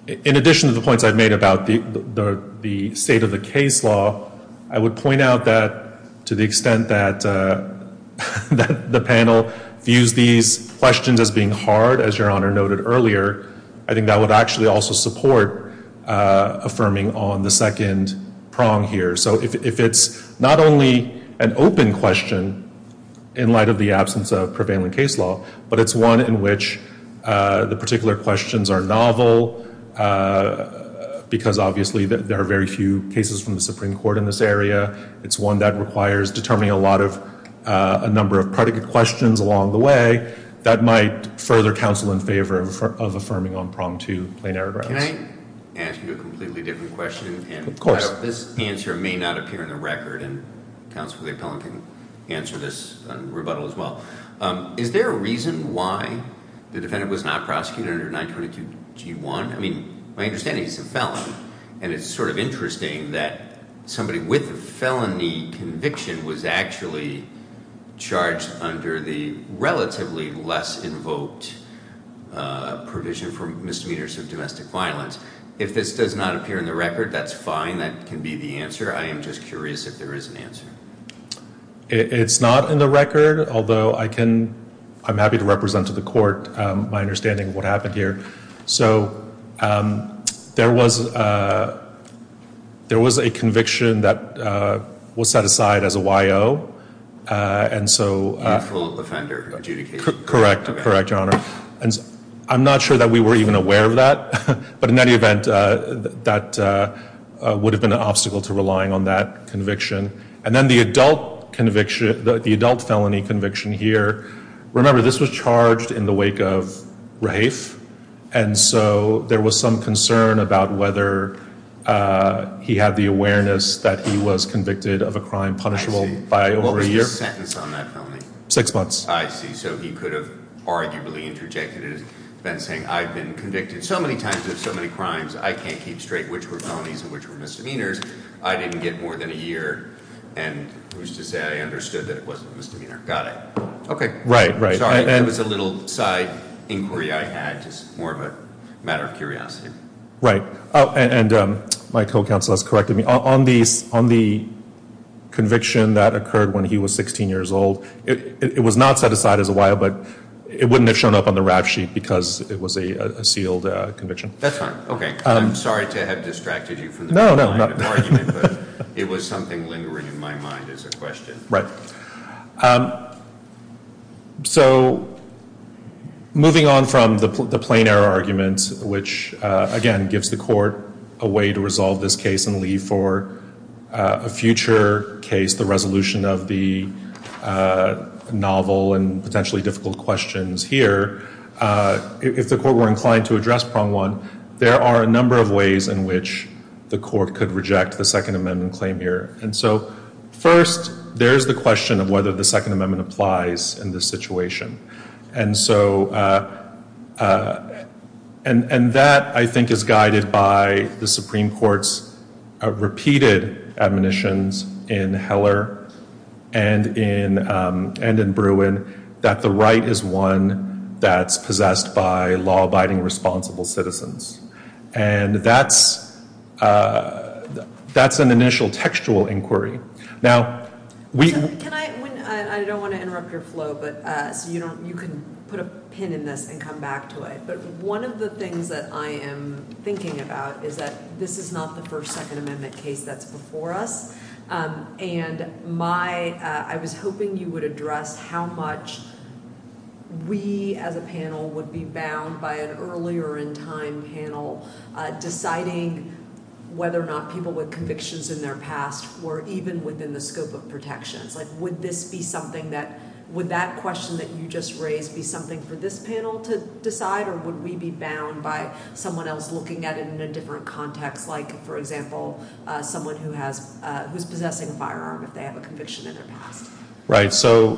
in addition to the points I've made about the state of the case law, I would point out that to the extent that the panel views these questions as being hard, as Your Honor noted earlier, I think that would actually also support affirming on the second prong here. So if it's not only an open question in light of the absence of prevailing case law, but it's one in which the particular questions are novel, because obviously there are very few cases from the Supreme Court in this area, it's one that requires determining a lot of a number of predicate questions along the way, that might further counsel in favor of affirming on prong two. Can I ask you a completely different question? Of course. This answer may not appear in the record, and Counselor Day-Cohen can answer this in rebuttal as well. Is there a reason why the defendant was not prosecuted under 922 Key 1? I mean, my understanding is it's a felony, and it's sort of interesting that somebody with a felony conviction was actually charged under the relatively less invoked provision for misdemeanors of domestic violence. If this does not appear in the record, that's fine. That can be the answer. I am just curious if there is an answer. It's not in the record, although I can I'm happy to represent to the court my understanding of what happened here. So there was a conviction that was set aside as a YO, and so a full offender adjudication. Correct, Your Honor. I'm not sure that we were even aware of that, but in any event, that would have been an obstacle to relying on that conviction. And then the adult felony conviction here, remember this was charged in the wake of Rafe, and so there was some concern about whether he had the awareness that he was convicted of a crime punishable What was his sentence on that felony? Six months. I see. So he could have arguably interjected and said, I've been convicted so many times of so many crimes, I can't keep straight which were felonies and which were misdemeanors. I didn't get more than a year, and who's to say I understood that it wasn't a misdemeanor. Got it. Sorry, it was a little side inquiry I had, just more of a matter of curiosity. Right. And my co-counsel has corrected me. On the conviction that occurred when he was 16 years old, it was not set aside as a while, but it wouldn't have shown up on the rap sheet because it was a sealed conviction. That's fine. Okay. I'm sorry to have distracted you. No, no. It was something lingering in my mind as a question. Right. So, moving on from the plain error argument, which again, gives the court a way to resolve this case and leave for a future case, the resolution of the novel and potentially difficult questions here. If the court were inclined to address prong one, there are a number of ways in which the court could reject the Second Amendment claim here. First, there's the question of whether the Second Amendment applies in this situation. And that, I think, is one of the most important questions in this case. The second question is whether there's repeated admonitions in Heller and in Bruin that the right is one that's possessed by law-abiding, responsible citizens. And that's an initial textual inquiry. Now, we know that this is not the first Second Amendment case that's before us. And my, I was hoping you would address how much we as a panel would be bound by an earlier in time panel deciding whether or not people with convictions in their past were even within the scope of protection. Like, would this be something that, would that question that you just raised be something for this panel to decide or would we be bound by someone else looking at it in a different context? Like, for example, someone who has, who's possessing a firearm if they have a conviction in it. Right. So,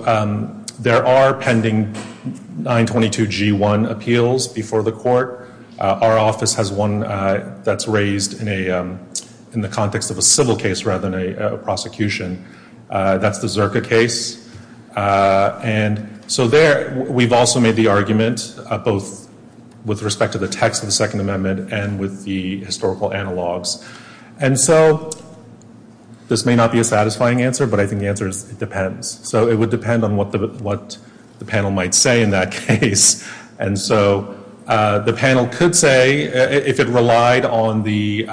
there are pending 922G1 appeals before the court. Our office has one that's raised in the context of a civil case rather than a prosecution. That's the Zirka case. And so there, we've also made the arguments both with respect to the text of the Second Amendment and with the historical analogs. And so, this may not be a satisfying answer, but I think the answer is it depends. So, it would depend on what the panel might say in that case. And so, the panel could say if it relied on the,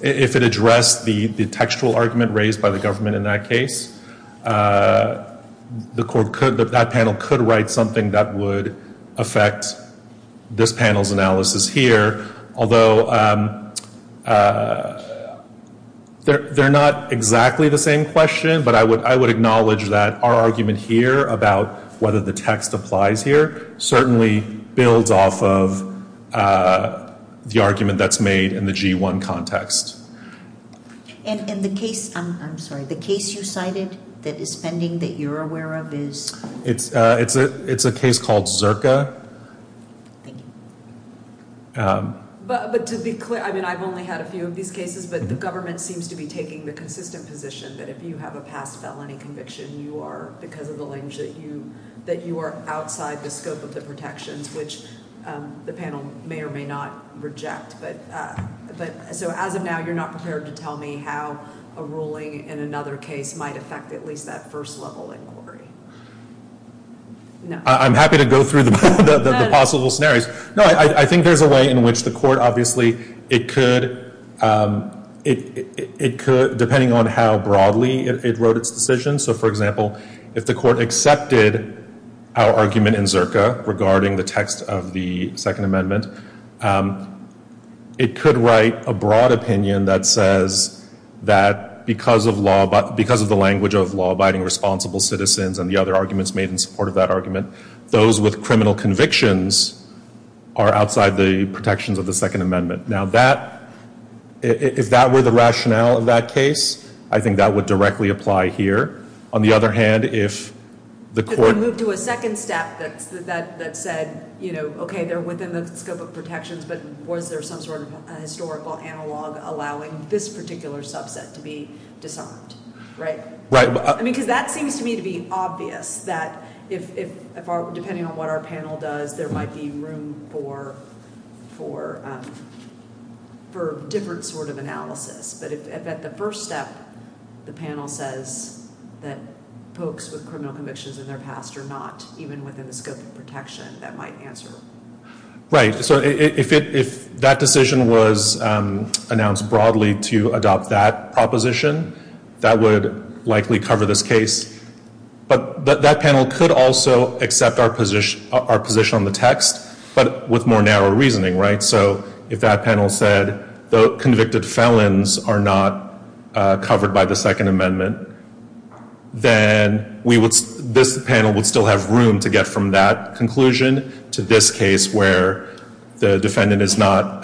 if it addressed the textual argument raised by the government in that case, the court could, that panel could write something that would affect this panel's analysis here. Although, they're not exactly the same question, but I would acknowledge that our argument here about whether the text applies here certainly builds off of the argument that's made in the G1 context. And the case, I'm sorry, the case you cited that is pending that you're aware of this. It's a case called Zirka. Thank you. But, to be clear, I mean, I've only had a few of these cases, but the government seems to be taking the consistent position that if you have a past felony conviction, you are, because of the language that you that you are outside the scope of the protections, which the panel may or may not reject. But, so, as of now, you're not prepared to tell me how a ruling in another case might affect at least that first level inquiry. I'm happy to go through the possible scenarios. No, I think there's a way in which the court, obviously, it could depending on how broadly it wrote its decision. So, for example, if the court accepted our argument in Zirka regarding the text of the Second Amendment, it could write a broad opinion that says that because of the language of law-abiding responsible citizens and the other arguments made in support of that argument, those with criminal convictions are outside the protections of the Second Amendment. Now, that, if that were the rationale of that case, I think that would directly apply here. On the other hand, if the court moved to a second step that said, you know, okay, they're within the scope of protections, but was there some sort of historical analog allowing this particular subset to be disarmed, right? Because that seems to me to be obvious that if, depending on what our panel does, there might be room for different sort of analysis. But the first step, the panel says that folks with criminal convictions in their past are not even within the scope of protection. That might answer. Right. So, if that decision was announced broadly to adopt that proposition, that would likely cover this case. But that panel could also accept our position on the text, but with more narrow reasoning, right? So, if that panel said, convicted felons are not covered by the Second Amendment, then this panel would still have room to get from that conclusion to this case where the defendant is not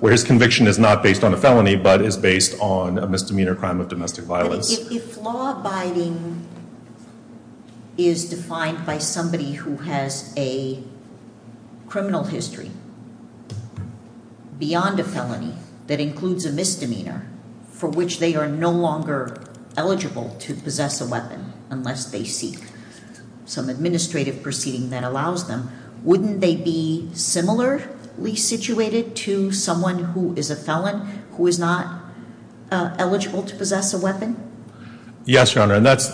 where his conviction is not based on a felony, but is based on a misdemeanor crime of domestic violence. If law-abiding is defined by somebody who has a criminal history beyond a felony that includes a misdemeanor for which they are no longer eligible to possess a weapon unless they seek some administrative proceeding that allows them, wouldn't they be similarly situated to someone who is a felon who is not eligible to possess a weapon? Yes, Your Honor, and that's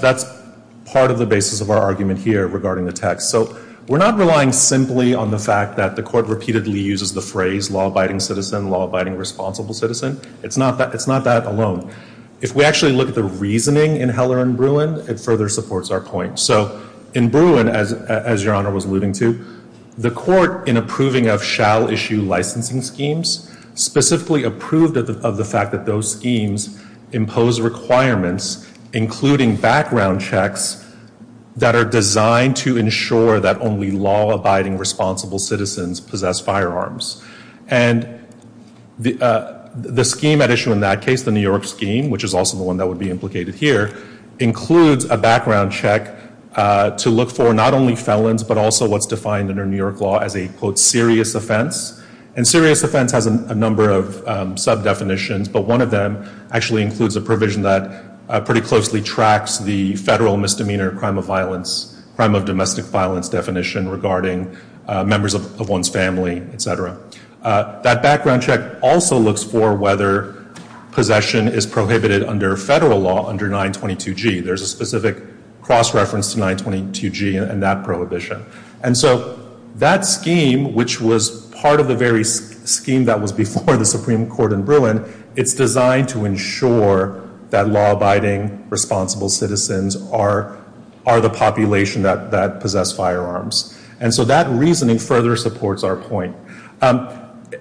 part of the basis of our argument here regarding the text. So, we're not relying simply on the fact that the Court repeatedly uses the phrase law-abiding citizen, law-abiding responsible citizen. It's not that alone. If we actually look at the reasoning in Heller and Bruin, it further supports our point. So, in Bruin, as Your Honor was alluding to, the Court, in approving of shall issue licensing schemes, specifically approved of the fact that those schemes impose requirements, including background checks, that are designed to ensure that only law-abiding responsible citizens possess firearms. And, the scheme at issue in that case, the New York law, as indicated here, includes a background check to look for not only felons, but also what's defined under New York law as a serious offense. And serious offense has a number of sub-definitions, but one of them actually includes a provision that pretty closely tracks the federal misdemeanor of crime of violence, crime of domestic violence definition regarding members of one's family, etc. That background check also looks for whether possession is prohibited under federal law under 922G. There's a specific cross-reference to 922G in that prohibition. And so, that scheme, which was part of the very scheme that was before the Supreme Court in Bruin, it's designed to ensure that law-abiding responsible citizens are the population that possess firearms. And so that reasoning further supports our point.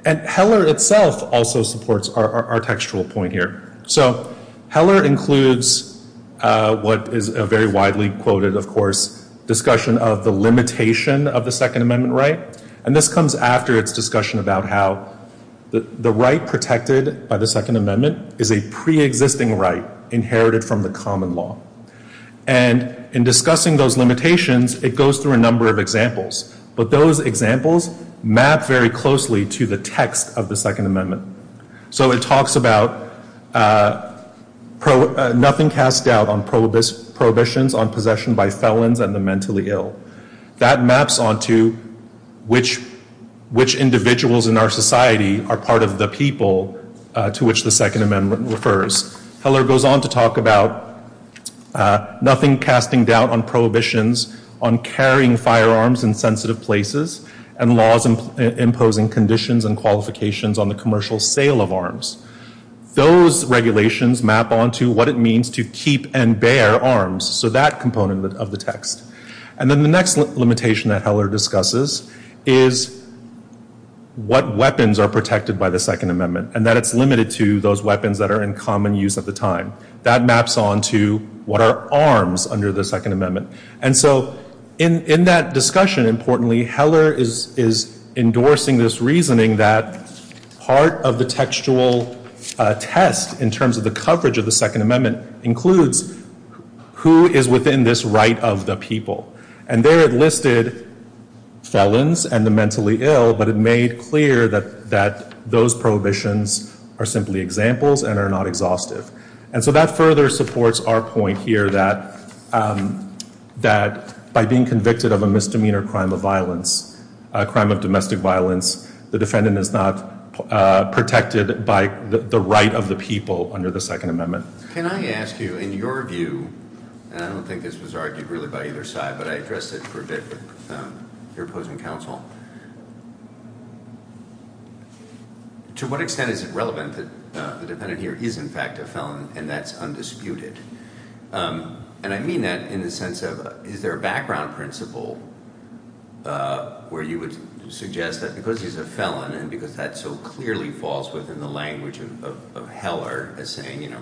And Heller itself also supports our textual point here. So, Heller includes what is a very widely quoted, of course, discussion of the limitation of the Second Amendment right. And this comes after its discussion about how the right protected by the Second Amendment is a pre-existing right inherited from the common law. And in discussing those limitations, it goes through a number of examples. But those examples map very closely to the Second Amendment. So, it talks about nothing cast doubt on prohibitions on possession by felons and the mentally ill. That maps onto which individuals in our society are part of the people to which the Second Amendment refers. Heller goes on to talk about nothing casting doubt on prohibitions on carrying firearms in sensitive places and laws imposing conditions and qualifications on the commercial sale of arms. Those regulations map onto what it means to keep and bear arms. So, that component of the text. And then the next limitation that Heller discusses is what weapons are protected by the Second Amendment and that it's limited to those weapons that are in common use at the time. That maps onto what are arms under the Second Amendment. And so in that discussion, importantly, Heller is endorsing this reasoning that part of the textual test in terms of the coverage of the Second Amendment includes who is within this right of the people. And there it listed felons and the mentally ill, but it made clear that those prohibitions are simply examples and are not exhaustive. And so that further supports our point here that by being convicted of a misdemeanor crime of violence, a crime of domestic violence, the defendant is not protected by the right of the people under the Second Amendment. Can I ask you, in your view, and I don't think this was argued really by either side, but I addressed it for a bit with your opposing counsel. To what extent is it relevant that the defendant here is in fact a felon and that's undisputed? And I mean that in the sense of is there a background principle where you would suggest that because he's a felon and because that so clearly falls within the language of Heller as saying, you know,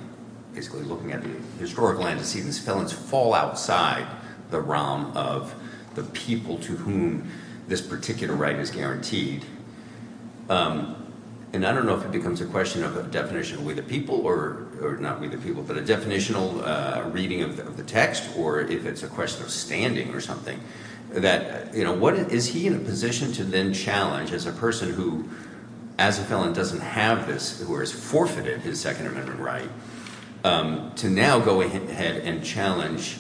basically looking at the historical antecedents, felons fall outside the realm of the people to whom this particular right is guaranteed. And I don't know if it becomes a question of a definition with the people or not with the people, but a definitional reading of the text or if it's a question of standing or something that, you know, is he in a position to then challenge as a person who as a felon doesn't have this, who has forfeited his Second Amendment right, to now go ahead and challenge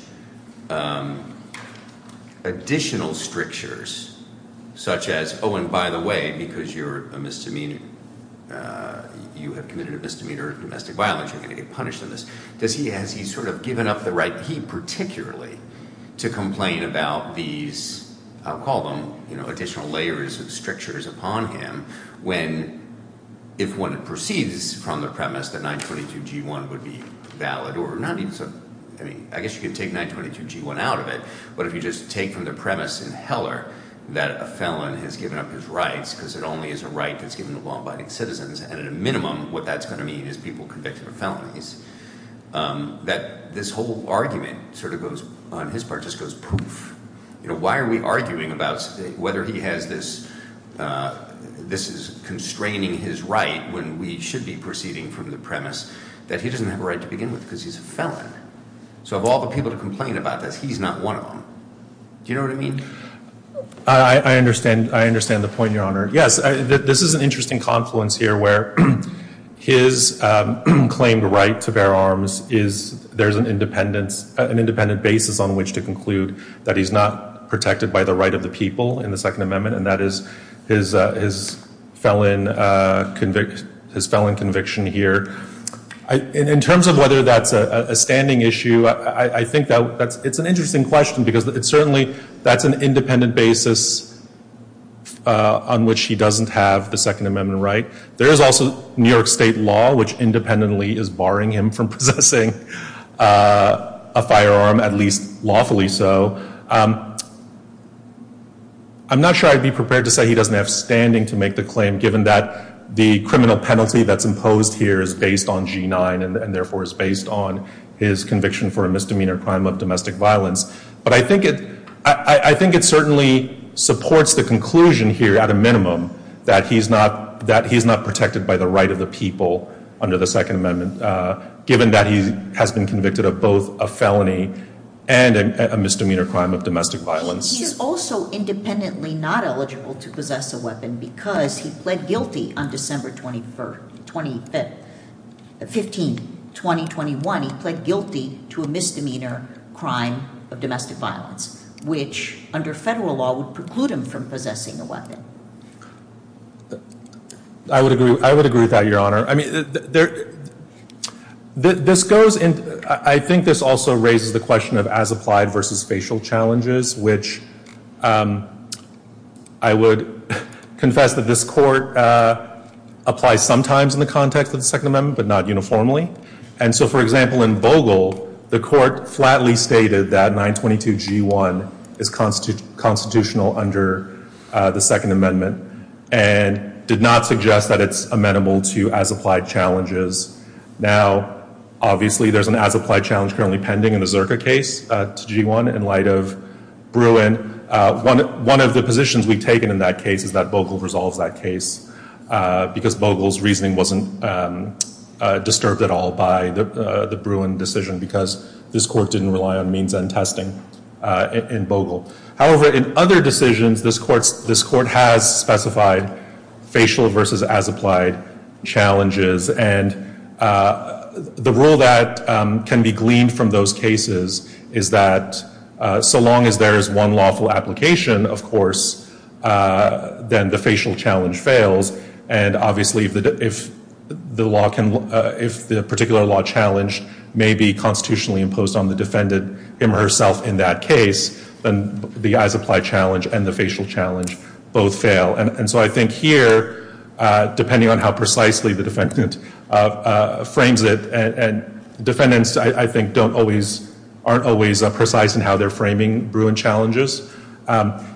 additional strictures such as, oh, and by the way, because you're a misdemeanor, you have committed misdemeanor domestic violence, you're going to get punished for this, that he has, he's sort of given up the right, he particularly, to complain about these, I'll call them, you know, additional layers of strictures upon him when if one proceeds from the premise that 922 G1 would be valid or not, I mean, I guess you can take 922 G1 out of it, but if you just take from the premise in Heller that a felon has given up his rights because it only is a right that's given the law by its citizens and at a minimum what that's going to mean is people convicted of felonies that this whole argument sort of goes, on his part, just goes poof. You know, why are we arguing about whether he has this, this is constraining his right when we should be proceeding from the premise that he doesn't have a right to begin with because he's a felon? So of all the people to complain about this, he's not one of them. Do you know what I mean? I understand, I understand the point, Your Honor. Yes, this is an interesting confluence here where his claimed right to bear arms is, there's an independent, an independent basis on which to conclude that he's not protected by the right of the people in the Second Amendment and that is his felon conviction here. In terms of whether that's a standing issue, I think that's, it's an interesting question because certainly that's an independent basis on which he doesn't have the Second Amendment right. There is also New York State law which independently is barring him from possessing a firearm, at least lawfully so. I'm not sure I'd be prepared to say he doesn't have standing to make the claim given that the criminal penalty that's imposed here is based on G9 and therefore is based on his conviction for a misdemeanor crime of domestic violence, but I think it's certainly supports the conclusion here at a minimum that he's not protected by the right of the people under the Second Amendment given that he has been convicted of both a felony and a misdemeanor crime of domestic violence. He is also independently not eligible to possess a weapon because he pled guilty on December 21st, 15th, 2021. He pled guilty to a misdemeanor crime of domestic violence, which under federal law would preclude him from possessing a weapon. I would agree with that, Your Honor. I think this also raises the question of as-applied versus facial challenges which I would confess that this Court applies sometimes in the context of the Second Amendment, but not uniformly. For example, in Bogle, the as-applied challenge to G1 is constitutional under the Second Amendment and did not suggest that it's amenable to as-applied challenges. Now, obviously there's an as-applied challenge currently pending in the Zirka case to G1 in light of Bruin. One of the positions we've taken in that case is that Bogle resolves that case because Bogle's reasoning wasn't disturbed at all by the Bruin decision because this Court didn't rely on means and testing in Bogle. However, in other decisions, this Court has specified facial versus as-applied challenges and the rule that can be gleaned from those cases is that so long as there's one lawful application, of course, then the facial challenge fails and obviously if the particular law challenged may be constitutionally imposed on the defendant him or herself in that case, then the as-applied challenge and the facial challenge both fail. I think here, depending on how precisely the defendant frames it, defendants, I think, aren't always precise in how they're framing Bruin challenges.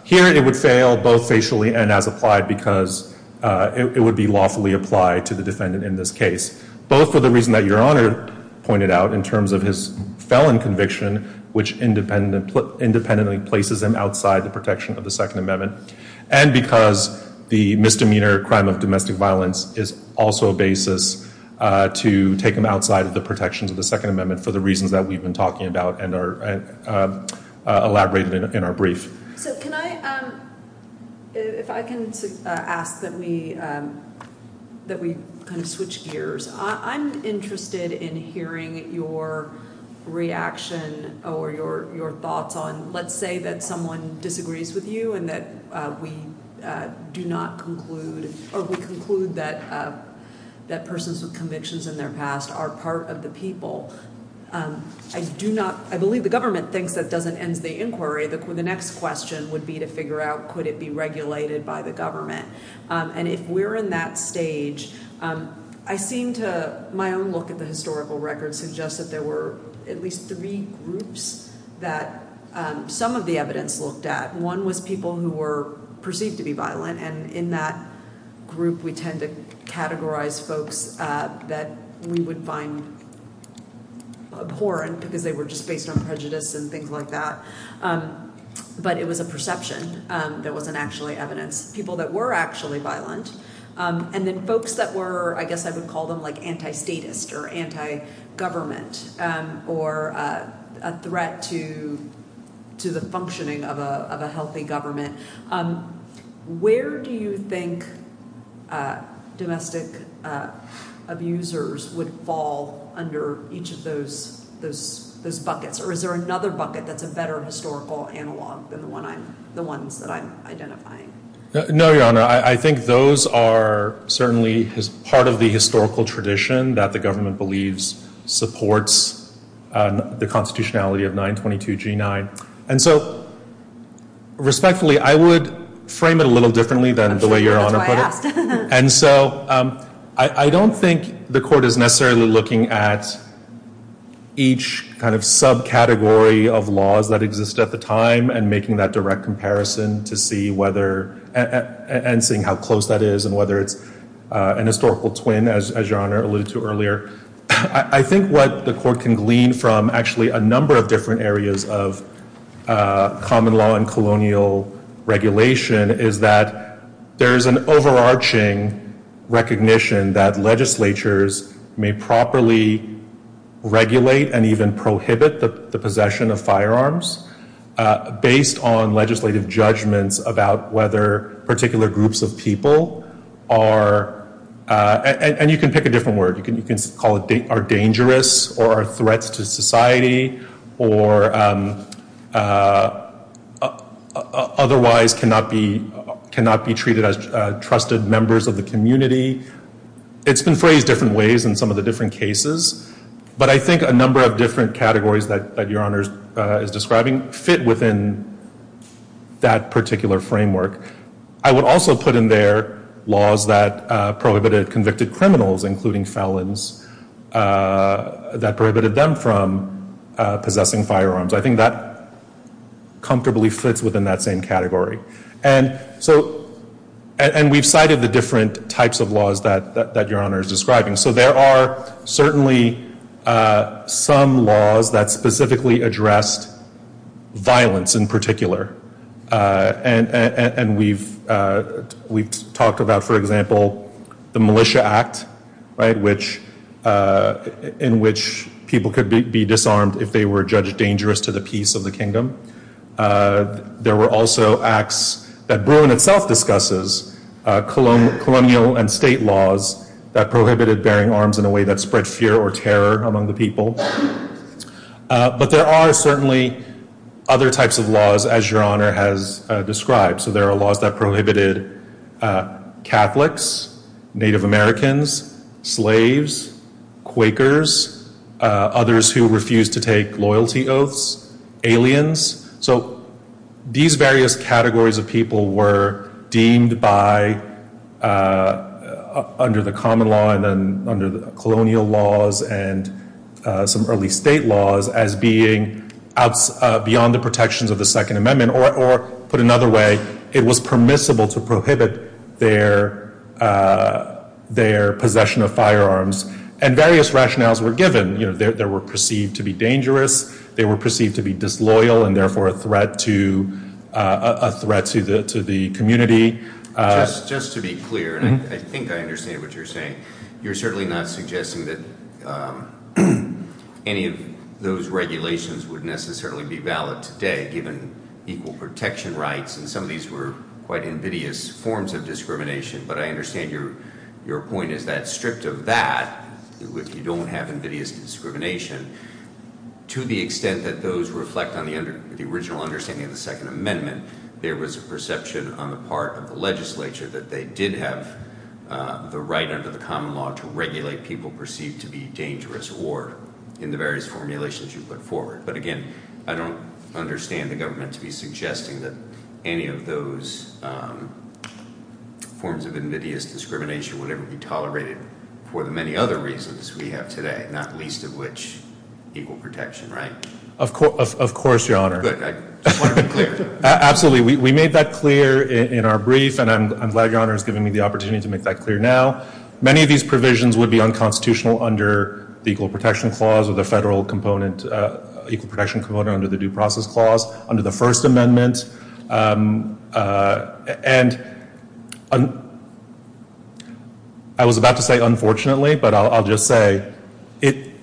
Here, it would fail both facially and as-applied because it would be lawfully applied to the defendant in this case. Both for the reason that Your Honor pointed out in terms of his felon conviction which independently places him outside the protection of the Second Amendment and because the misdemeanor crime of domestic violence is also a basis to take him outside the protections of the Second Amendment for the reasons that we've been talking about and elaborated in our brief. Can I ask that we switch gears. I'm interested in hearing your reaction or your thoughts on let's say that someone disagrees with you and that we do not conclude or we conclude that persons with convictions in their past are part of the people. I believe the government thinks that doesn't end the inquiry. The next question would be to figure out could it be regulated by the government. If we're in that stage I seem to my own look at the historical record suggest that there were at least three groups that some of the evidence looked at. One was people who were perceived to be violent and in that group we tend to categorize folks that we would find abhorrent because they were just based on prejudice and things like that. But it was a perception that wasn't actually evidence. People that were actually violent and then folks that were, I guess I would call them anti-statist or anti-government or a threat to the functioning of a healthy government. Where do you think domestic abusers would fall under each of those buckets? Or is there another bucket that's a better historical analog than the one that I'm identifying? No, Your Honor. I think those are certainly part of the historical tradition that the government believes supports the constitutionality of 922 G9. Respectfully, I would frame it a little differently than the way Your Honor put it. I don't think the court is necessarily looking at each subcategory of laws that exist at the time and making that direct comparison and seeing how close that is and whether it's an historical twin, as Your Honor alluded to earlier. I think what the court can glean from actually a number of different areas of common law and colonial regulation is that there's an overarching recognition that legislatures may properly regulate and even prohibit the possession of firearms based on legislative judgments about whether particular groups of people are and you can pick a different word. You can call it dangerous or threats to society or otherwise cannot be treated as trusted members of the community. It's been phrased different ways in some of the different cases, but I think a number of different categories that Your Honor is describing fit within that particular framework. I would also put in there laws that prohibited convicted criminals, including felons, that prohibited them from possessing firearms. I think that comfortably fits within that same category. And we've cited the laws that Your Honor is describing. So there are certainly some laws that specifically address violence in particular and we've talked about, for example, the Militia Act, right, in which people could be disarmed if they were judged dangerous to the peace of the kingdom. There were also acts that Bruin itself discusses, colonial and state laws that prohibited bearing arms in a way that spread fear or terror among the people. But there are certainly other types of laws, as Your Honor has described. So there are laws that prohibited Catholics, Native Americans, slaves, Quakers, others who refused to take loyalty oaths, aliens. So these various categories of people were deemed by under the common law and under the colonial laws and some early state laws as being beyond the protections of the Second Amendment or, put another way, it was permissible to prohibit their possession of firearms. And various rationales were given. They were perceived to be dangerous, they were perceived to be disloyal and therefore a threat to the community. Just to be clear, and I think I understand what you're saying, you're certainly not suggesting that any of those regulations would necessarily be valid today given equal protection rights, and some of these were quite invidious forms of discrimination, but I understand your point is that, stripped of that, if you don't have invidious discrimination, to the extent that those reflect on the original understanding of the Second Amendment, there was a perception on the part of the legislature that they did have the right under the common law to regulate people perceived to be dangerous or, in the various formulations you put forward. But again, I don't understand the government to be suggesting that any of those forms of invidious discrimination would ever be tolerated for the many other reasons we have today, not least of which is equal protection rights. Of course, Your Honor. Absolutely. We made that clear in our brief, and I'm glad Your Honor has given me the opportunity to make that clear now. Many of these provisions would be unconstitutional under the Equal Protection Clause or the federal component under the Due Process Clause, under the First Amendment, and I was about to say unfortunately, but I'll just say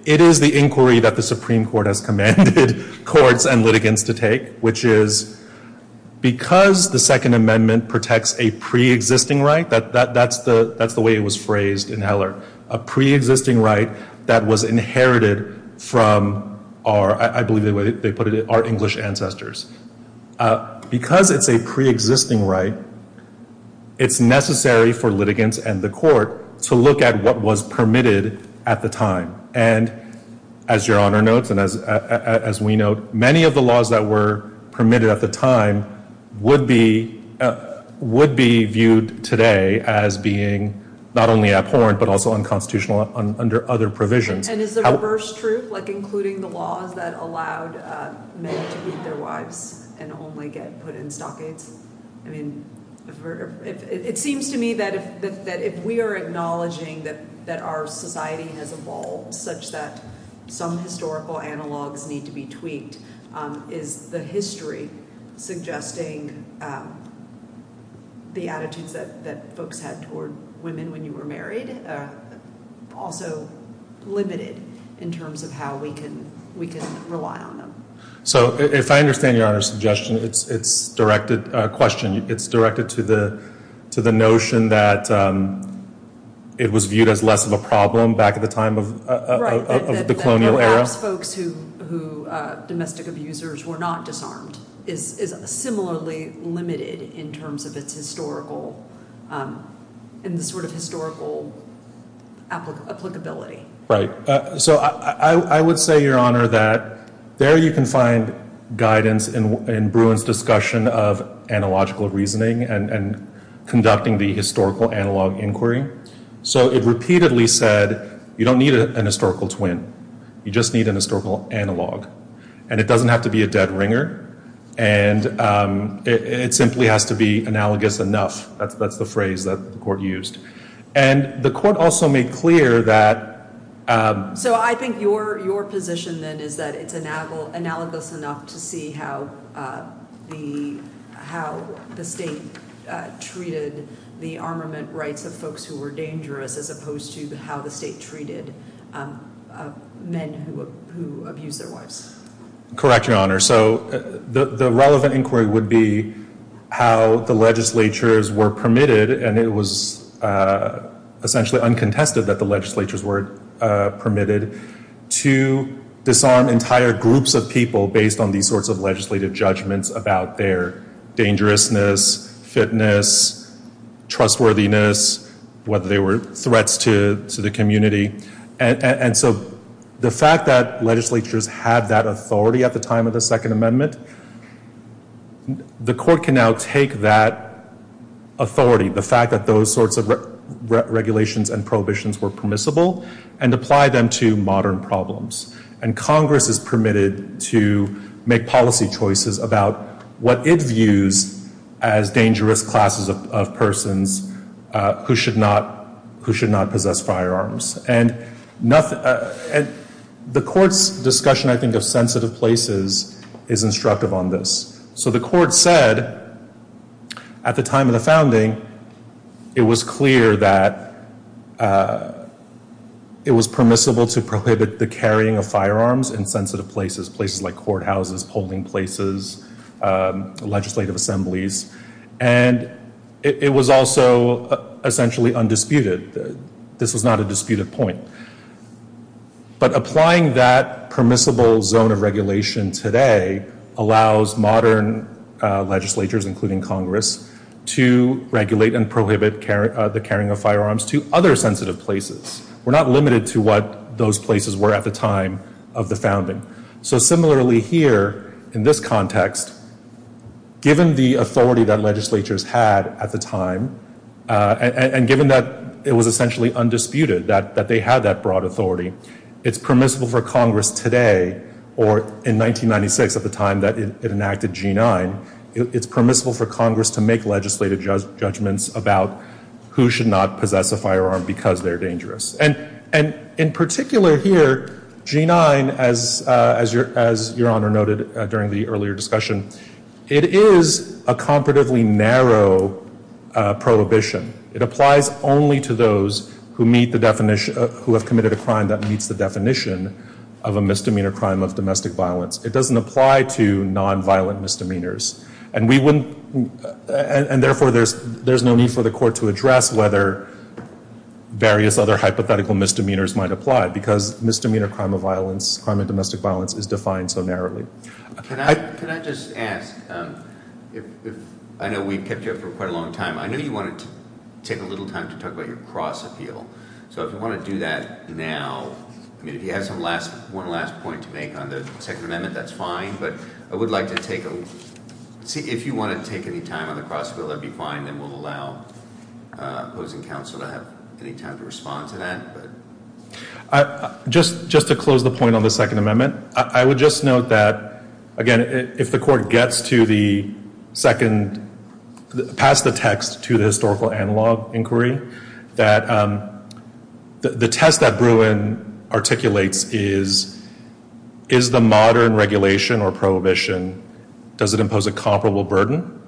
it is the inquiry that the Supreme Court has commanded courts and litigants to take, which is because the Second Amendment protects a pre-existing right that's the way it was phrased in Eller, a pre-existing right that was inherited from our, I believe they put it, our English ancestors. Because it's a pre-existing right, it's necessary for litigants and the court to look at what was and as Your Honor notes and as we note, many of the laws that were permitted at the time would be viewed today as being not only abhorrent, but also unconstitutional under other provisions. And is there a reverse truth, like including the laws that allowed men to keep their wives and only get put in stockades? I mean, it seems to me that if we are acknowledging that our society has evolved such that some historical analogues need to be tweaked, is the history suggesting the attitudes that folks had toward women when you were married also limited in terms of how we can rely on them. So, if I understand Your Honor's suggestion, it's directed to the notion that it was viewed as less of a problem back at the time of the colonial era? Folks who, domestic abusers, were not disarmed is similarly limited in terms of its historical in the sort of historical applicability. Right. So, I would say, Your Honor, that there you can find guidance in Bruin's discussion of analogical reasoning and conducting the historical analog inquiry. So, it repeatedly said, you don't need an historical twin. You just need an historical analog. And it doesn't have to be a dead ringer. And it simply has to be analogous enough. That's the phrase that the Court used. And the Court also made clear that So, I think your position then is that it's analogous enough to see how the state treated the armament rights of folks who were dangerous as opposed to how the state treated men who abused their wives. Correct, Your Honor. So, the relevant inquiry would be how the legislatures were permitted and it was essentially uncontested that the legislatures were permitted to disarm entire groups of people based on these sorts of legislative judgments about their trustworthiness, whether they were threats to the community. And so, the fact that legislatures had that authority at the time of the Second Amendment, the Court can now take that authority, the fact that those sorts of regulations and prohibitions were permissible and apply them to modern problems. And Congress is permitted to make policy choices about what it views as persons who should not possess firearms. The Court's discussion, I think, of sensitive places is instructive on this. So, the Court said at the time of the founding it was clear that it was permissible to prohibit the carrying of firearms in sensitive places, places like courthouses, polling places, legislative assemblies, and it was also essentially undisputed. This is not a disputed point. But applying that permissible zone of regulation today allows modern legislatures, including Congress, to regulate and prohibit the carrying of firearms to other sensitive places. We're not limited to what those places were at the time of the founding. So, similarly here, in this context, given the authority that legislatures had at the time, and given that it was essentially undisputed that they had that broad authority, it's permissible for Congress today, or in 1996 at the time that it enacted G-9, it's permissible for Congress to make legislative judgments about who should not possess a firearm because they're dangerous. And in particular here, G-9, as Your Honor noted during the earlier discussion, it is a comparatively narrow prohibition. It applies only to those who meet the definition of, who have committed a crime that meets the definition of a misdemeanor crime of domestic violence. It doesn't apply to non-violent misdemeanors. And we wouldn't, and therefore there's no need for the court to address whether various other hypothetical misdemeanors might apply because misdemeanor crime of domestic violence is defined so narrowly. Can I just ask, I know we've kept you up for quite a long time. I know you wanted to take a little time to talk about your process deal. So if you want to do that now, I mean if you have some last, one last point to make on the Second Amendment, that's fine, but I would like to take a, if you want to take any time on the process deal, that'd be fine and we'll allow opposing counsel to have any time to respond to that. Just to close the point on the Second Amendment, I would just note that, again, if the court gets to the second, pass the text to the historical analog inquiry, that the test that Bruin articulates is is the modern regulation or prohibition, does it impose a comparable burden?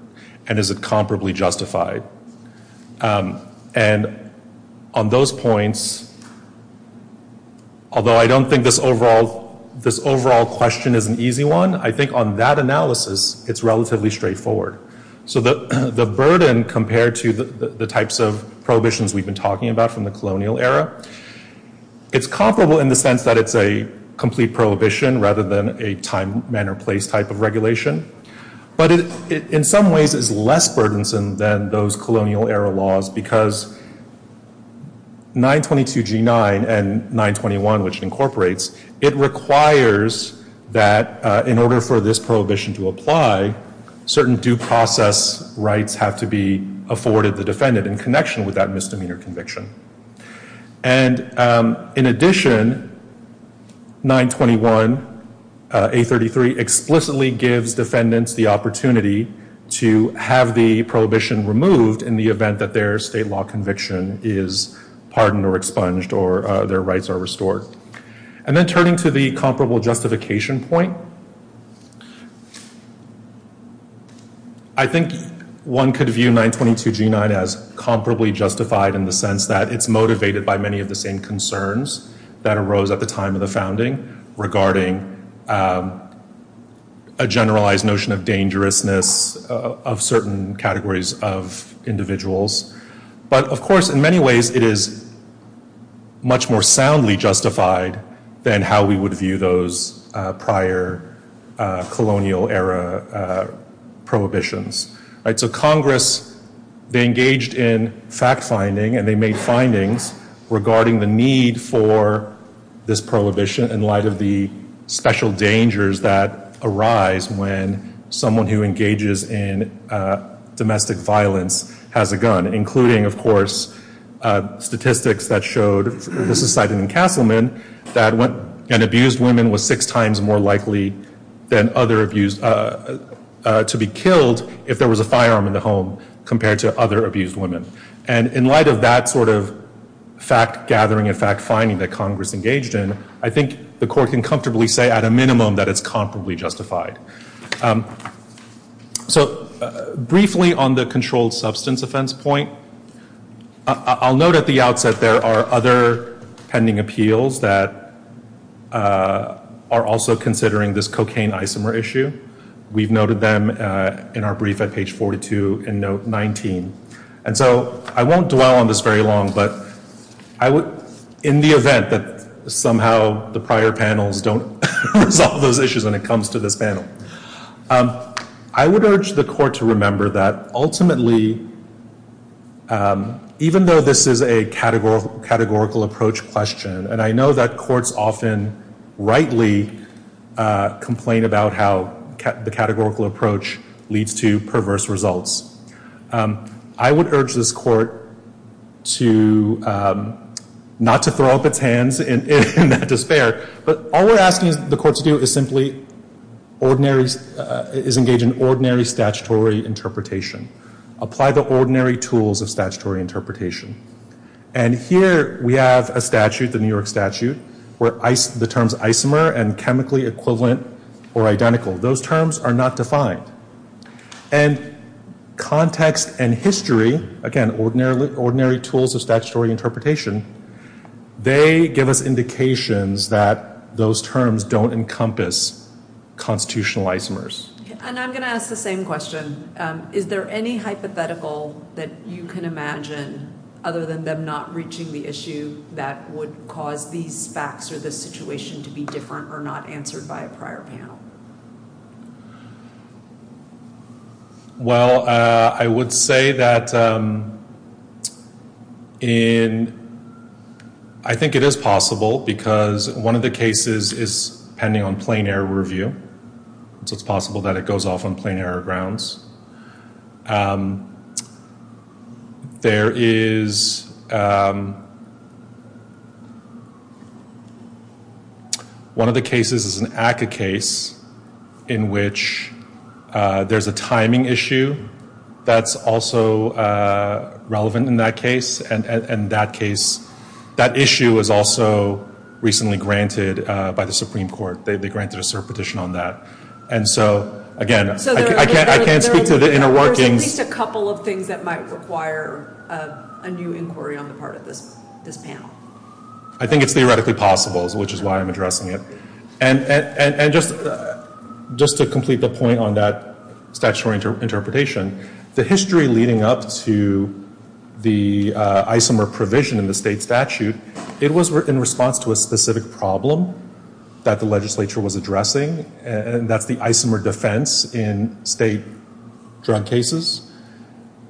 And is it comparably justified? And on those points, although I don't think this overall question is an easy one, I think on that analysis, it's relatively straightforward. So the burden compared to the types of prohibitions we've been talking about from the colonial era, it's comparable in the sense that it's a complete prohibition rather than a time, manner, place type of regulation. But in some ways it's less burdensome than those 922G9 and 921, which incorporates, it requires that in order for this prohibition to apply, certain due process rights have to be afforded the defendant in connection with that misdemeanor conviction. And in addition, 921 833 explicitly gives defendants the opportunity to have the prohibition removed in the event that their state law conviction is pardoned or expunged or their rights are restored. And then turning to the comparable justification point, I think one could view 922G9 as comparably justified in the sense that it's motivated by many of the same concerns that arose at the time of the founding regarding a generalized notion of dangerousness of certain categories of individuals. But of course in many ways it is much more soundly justified than how we would view those prior colonial era prohibitions. So Congress, they engaged in fact finding and they made findings regarding the need for this prohibition in light of the special dangers that arise when someone who engages in domestic violence has a gun, including of course statistics that showed this was cited in Kauffman that an abused woman was six times more likely than other abused, to be killed if there was a firearm in the home compared to other abused women. And in light of that sort of fact gathering and fact finding that Congress engaged in, I think the court can comfortably say at a minimum that it's justified. So briefly on the controlled substance offense point, I'll note at the outset there are other pending appeals that are also considering this cocaine isomer issue. We've noted them in our brief at page 42 in note 19. And so I won't dwell on this very long, but in the event that somehow the prior panels don't resolve those issues when it comes to this panel. I would urge the court to remember that ultimately even though this is a categorical approach question, and I know that courts often rightly complain about how the categorical approach leads to perverse results. I would urge this court to not to throw up its hands in despair, but all we're asking the court to do is simply is engage in ordinary statutory interpretation. Apply the ordinary tools of statutory interpretation. And here we have a statute, the New York statute, where the terms isomer and chemically equivalent or identical, those terms are not defined. And context and history, again, ordinary tools of statutory interpretation, they give us indications that those terms don't encompass constitutional isomers. And I'm going to ask the same question. Is there any hypothetical that you can imagine other than them not reaching the issue that would cause these facts or this situation to be different or not answered by a prior panel? Well, I would say that in I think it is possible because one of the cases is pending on plain error review, so it's possible that it goes off on plain error grounds. There is one of the cases is an ACCA case in which there's a timing issue that's also relevant in that case, and in that case, that issue is also recently granted by the Supreme Court. They granted a cert petition on that. And so, again, I can't speak for the interworking... There are at least a couple of things that might require a new inquiry on the part of this panel. I think it's theoretically possible, which is why I'm addressing it. And just to complete the point on that statutory interpretation, the history leading up to the isomer provision in the state statute, it was in response to a specific problem that the legislature was addressing and that the isomer defense in state drug cases,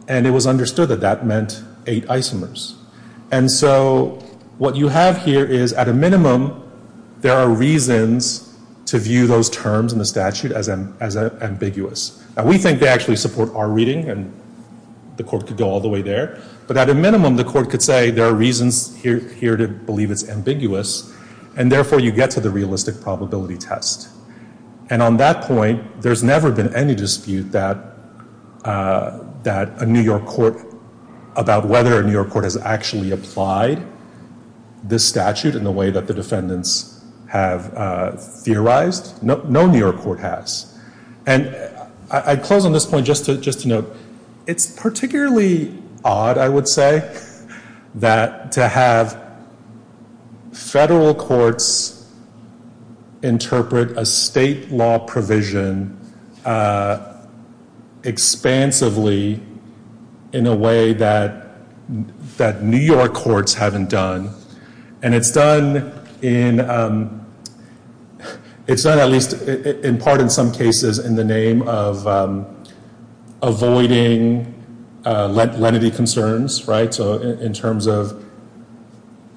and it was understood that that meant eight isomers. And so what you have here is at a minimum, there are reasons to view those terms in the statute as ambiguous. We think they actually support our reading, and the court could go all the way there. But at a minimum, the court could say there are reasons here to believe it's ambiguous, and therefore, you get to the realistic probability test. And on that point, there's never been any dispute that a New York court about whether a New York court has actually applied this statute in the way that the defendants have theorized. No New York court has. And I close on this point just to note, it's particularly odd, I would say, that to have federal courts interpret a state law provision expansively in a way that New York courts haven't done, and it's done in part in some cases in the name of avoiding lenity concerns, in terms of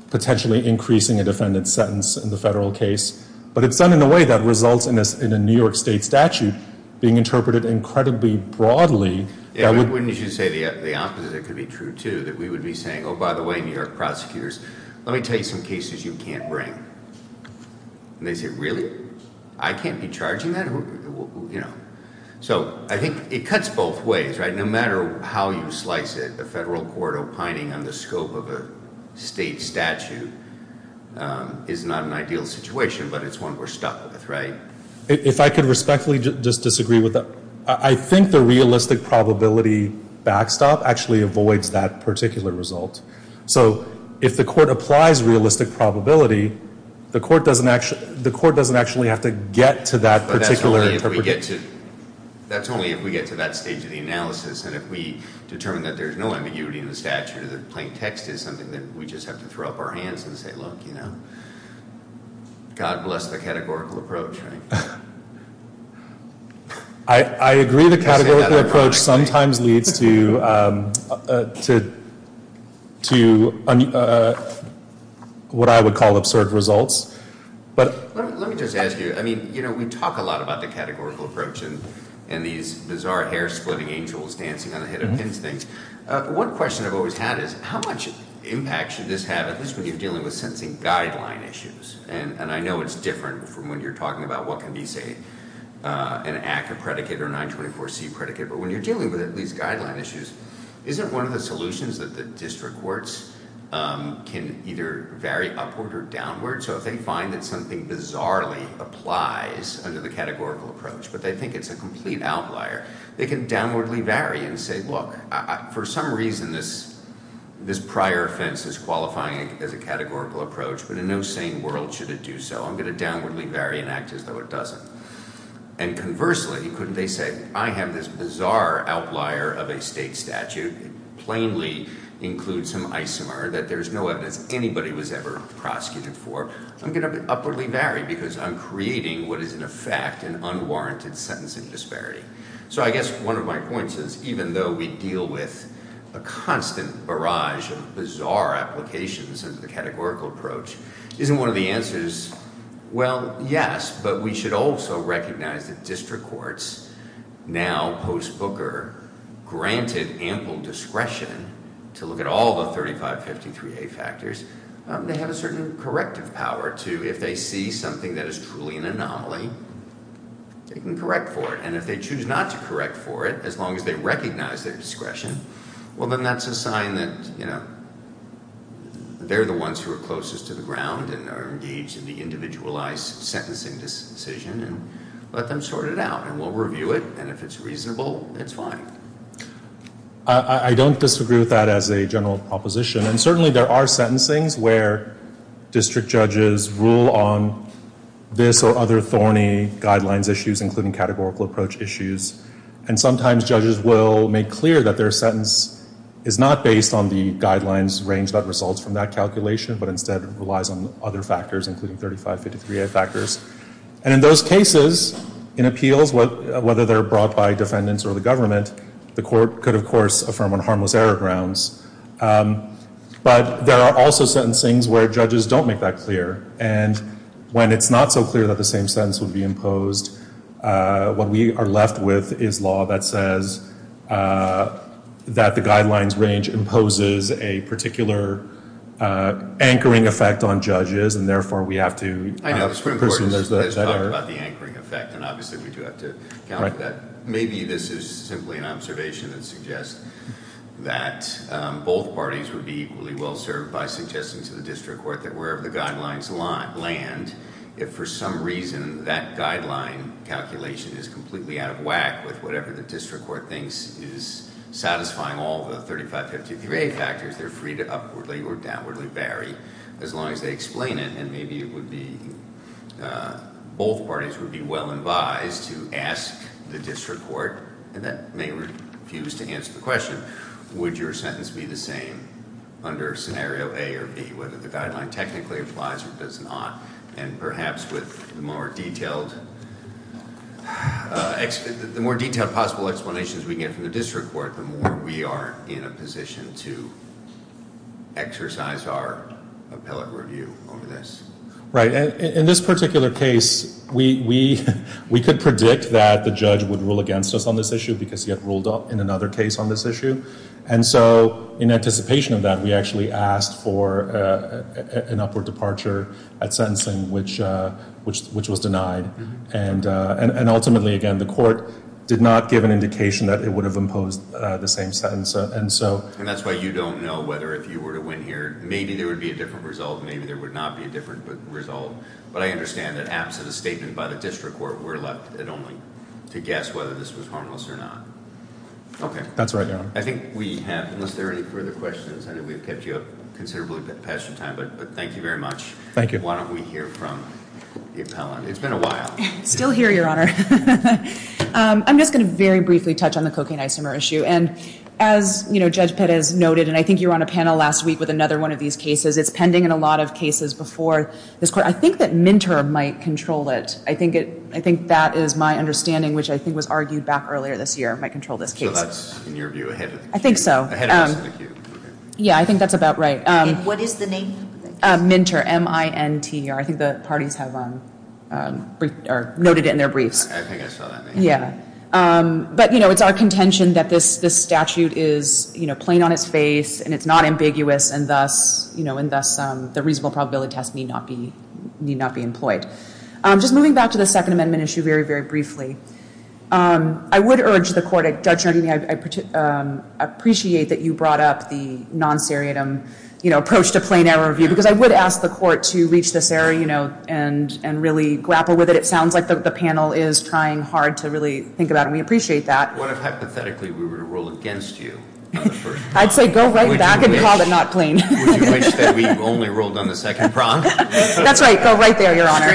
potentially increasing a defendant's sentence in the federal case. But it's done in a way that results in a New York state statute being interpreted incredibly broadly. Wouldn't you say the opposite could be true, too, that we would be saying, oh, by the way, New York prosecutors, let me tell you some cases you can't bring. And they say, really? I can't be charging that? So, I think it cuts both ways, right? No matter how you slice it, the federal court opining on the scope of a state statute is not an ideal situation, but it's one we're stuck with, right? If I could respectfully just disagree with that, I think the realistic probability backstop actually avoids that particular result. So, if the court applies such realistic probability, the court doesn't actually have to get to that particular interpretation. But that's only if we get to that stage of the analysis, and if we determine that there's no ambiguity in the statute, as if plain text is something that we just have to throw up our hands and say, look, you know, God bless the categorical approach, right? I agree the categorical approach sometimes leads to what I would call absurd results. Let me just ask you, I mean, you know, we talk a lot about the categorical approach and these bizarre hair-splitting angels dancing on the head of instinct. One question I've always had is, how much impact should this have, at least when you're dealing with sensing guideline issues? And I know it's different from when you're talking about what can be, say, an active predicate or a 924C predicate, but when you're dealing with these guideline issues, isn't one of the solutions that the district courts can either vary upward or downward, so if they find that something bizarrely applies under the categorical approach, but they think it's a complete outlier, they can downwardly vary and say, well, for some reason this prior offense is qualifying as a categorical approach, but in no sane world should it do so. I'm going to downwardly vary and act as though it doesn't. And conversely, couldn't they say, I have this bizarre outlier of a state statute and plainly include some isomer that there's no evidence anybody was ever prosecuted for. I'm going to upwardly vary because I'm creating what is in effect an unwarranted sentencing disparity. So I guess one of my points is even though we deal with a constant barrage of bizarre applications as the categorical approach, isn't one of the answers well, yes, but we should also recognize that district courts now while post-Booker granted ample discretion to look at all the 3553A factors, they have a certain corrective power to, if they see something that is truly an anomaly, they can correct for it. And if they choose not to correct for it, as long as they recognize their discretion, well then that's a sign that they're the ones who are closest to the ground and are engaged in the individualized sentencing decision and let them sort it out, and we'll review it, and if it's reasonable, it's fine. I don't disagree with that as a general proposition, and certainly there are sentencing where district judges rule on this or other thorny guidelines issues including categorical approach issues, and sometimes judges will make clear that their sentence is not based on the guidelines range that results from that calculation but instead relies on other factors including 3553A factors. And in those cases, in appeals, whether they're brought by defendants or the government, the court could of course affirm on harmless error grounds. But there are also sentencing where judges don't make that clear, and when it's not so clear that the same sentence would be imposed, what we are left with is law that says that the guidelines range imposes a particular anchoring effect on judges, and therefore we have to... Let's talk about the anchoring effect, and obviously we do have to account for that. Maybe this is simply an observation that suggests that both parties would be equally well-served by suggesting to the district court that wherever the guidelines land, if for some reason that guideline calculation is completely out of whack with whatever the district court thinks is satisfying all the 3553A factors, they're free to up or down or vary as long as they explain it, and maybe it would be... Both parties would be well advised to ask the district court that may refuse to answer the question, would your sentence be the same under scenario A or B, whether the guideline technically applies or does not, and perhaps with more detailed... The more detailed possible explanations we get from the district court, the more we are in a position to exercise our review over this. In this particular case, we could predict that the judge would rule against us on this issue because he had ruled in another case on this issue, and so in anticipation of that, we actually asked for an upward departure at sentencing, which was denied, and ultimately, again, the court did not give an indication that it would have imposed the same sentence, and so... Maybe there would be a different result, maybe there would not be a different result, but I understand that absent a statement by the district court, we're left only to guess whether this was harmless or not. Okay. I think we have... Unless there are any further questions, I think we've kept you up considerably past your time, but thank you very much. Why don't we hear from Ms. Holland. It's been a while. Still here, Your Honor. I'm just going to very briefly touch on the cocaine isomer issue, and as Judge Pettis has noted, and I think you were on a panel last week with another one of these cases, it's pending in a lot of cases before this court. I think that Minter might control it. I think that is my understanding, which I think was argued back earlier this year, might control this case. So that's, in your view, ahead of... I think so. Yeah, I think that's about right. What is the name? Minter, M-I-N-T-E-R. I think the parties have noted it in their brief. I think I saw that name. Yeah. But, you know, it's our contention that this statute is, you know, plain on its face, and it's not ambiguous, and thus, you know, and thus the reasonable probability test may not be employed. Just moving back to the Second Amendment issue very, very briefly, I would urge the court, Judge Rooney, I appreciate that you brought up the non-ferritum, you know, approach to plain error review, because I would ask the court to reach this area, you know, and really grapple with it. It sounds like the panel is trying hard to really think through that, and we appreciate that. What if, hypothetically, we were to rule against you? I'd say go right back and call it not plain. We've only ruled on the second prompt. That's right. Go right there, Your Honor.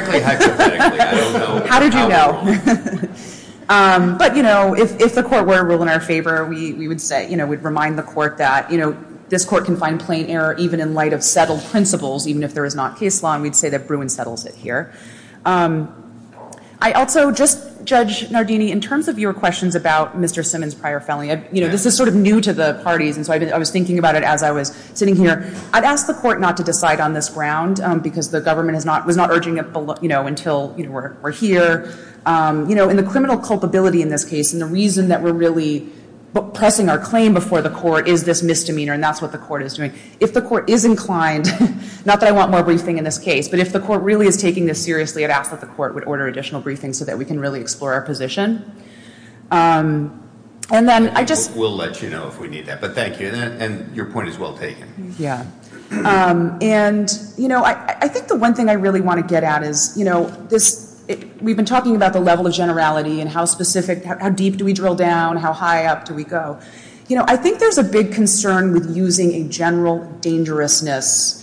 How did you know? But, you know, if the court were to rule in our favor, we would say, you know, we'd remind the court that, you know, this court can find plain error even in light of settled principles, even if there is not case law, and we'd say that Bruin settles it here. I also would just, Judge Nardini, in terms of your questions about Mr. Simmons' prior felony, you know, this is sort of new to the parties, and so I was thinking about it as I was sitting here. I'd ask the court not to decide on this ground, because the government was not urging it, you know, until we're here. You know, in the criminal culpability in this case, and the reason that we're really pressing our claim before the court is this misdemeanor, and that's what the court is doing. If the court is inclined, not that I want more briefing in this case, but if the court really is taking this seriously, I'd ask that the court would order additional briefing so that we can really explore our position. And then, I just... We'll let you know if we need that, but thank you, and your point is well taken. Yeah, and you know, I think the one thing I really want to get at is, you know, we've been talking about the level of generality and how specific, how deep do we drill down, how high up do we go. You know, I think there's a big concern with using a general dangerousness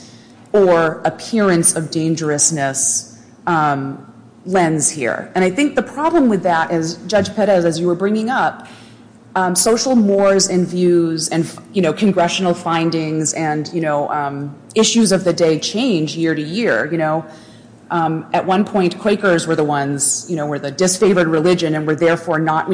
or appearance of dangerousness lens here, and I think the problem with that is, Judge Perez, as you were bringing up, social mores and views and, you know, congressional findings and, you know, issues of the day change year to year, you know. At one point, Quakers were the ones, you know, were the disfavored religion and were therefore not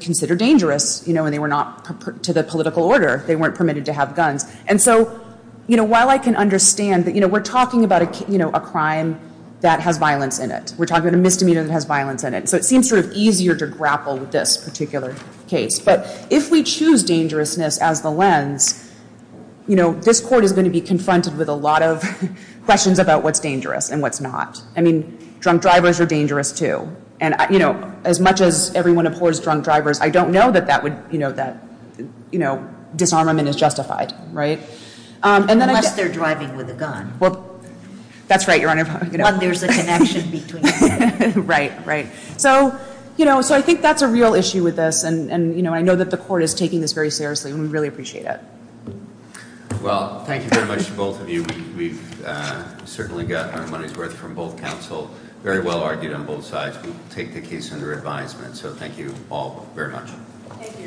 considered dangerous, you know, and they were not to the political order. They weren't permitted to have guns, and so, you know, while I can understand that, you know, we're talking about, you know, a crime that had violence in it. We're talking about a misdemeanor that has violence in it, so it seems easier to grapple with this particular case, but if we choose dangerousness as the lens, you know, this court is going to be confronted with a lot of questions about what's dangerous and what's not. I mean, drunk drivers are dangerous too, and, you know, as much as everyone abhors drunk drivers, I don't know that that would, you know, that, you know, disarmament is justified, right? Unless they're driving with a gun. That's right, Your Honor. Unless there's a connection between them. Right, right. So, you know, so I think that's a real issue with this, and, you know, I know that the court is taking this very seriously, and we really appreciate it. Well, thank you very much to both of you. We've certainly got our money's worth from both counsel, very well argued on both sides who take the case under advisement, so thank you all very much.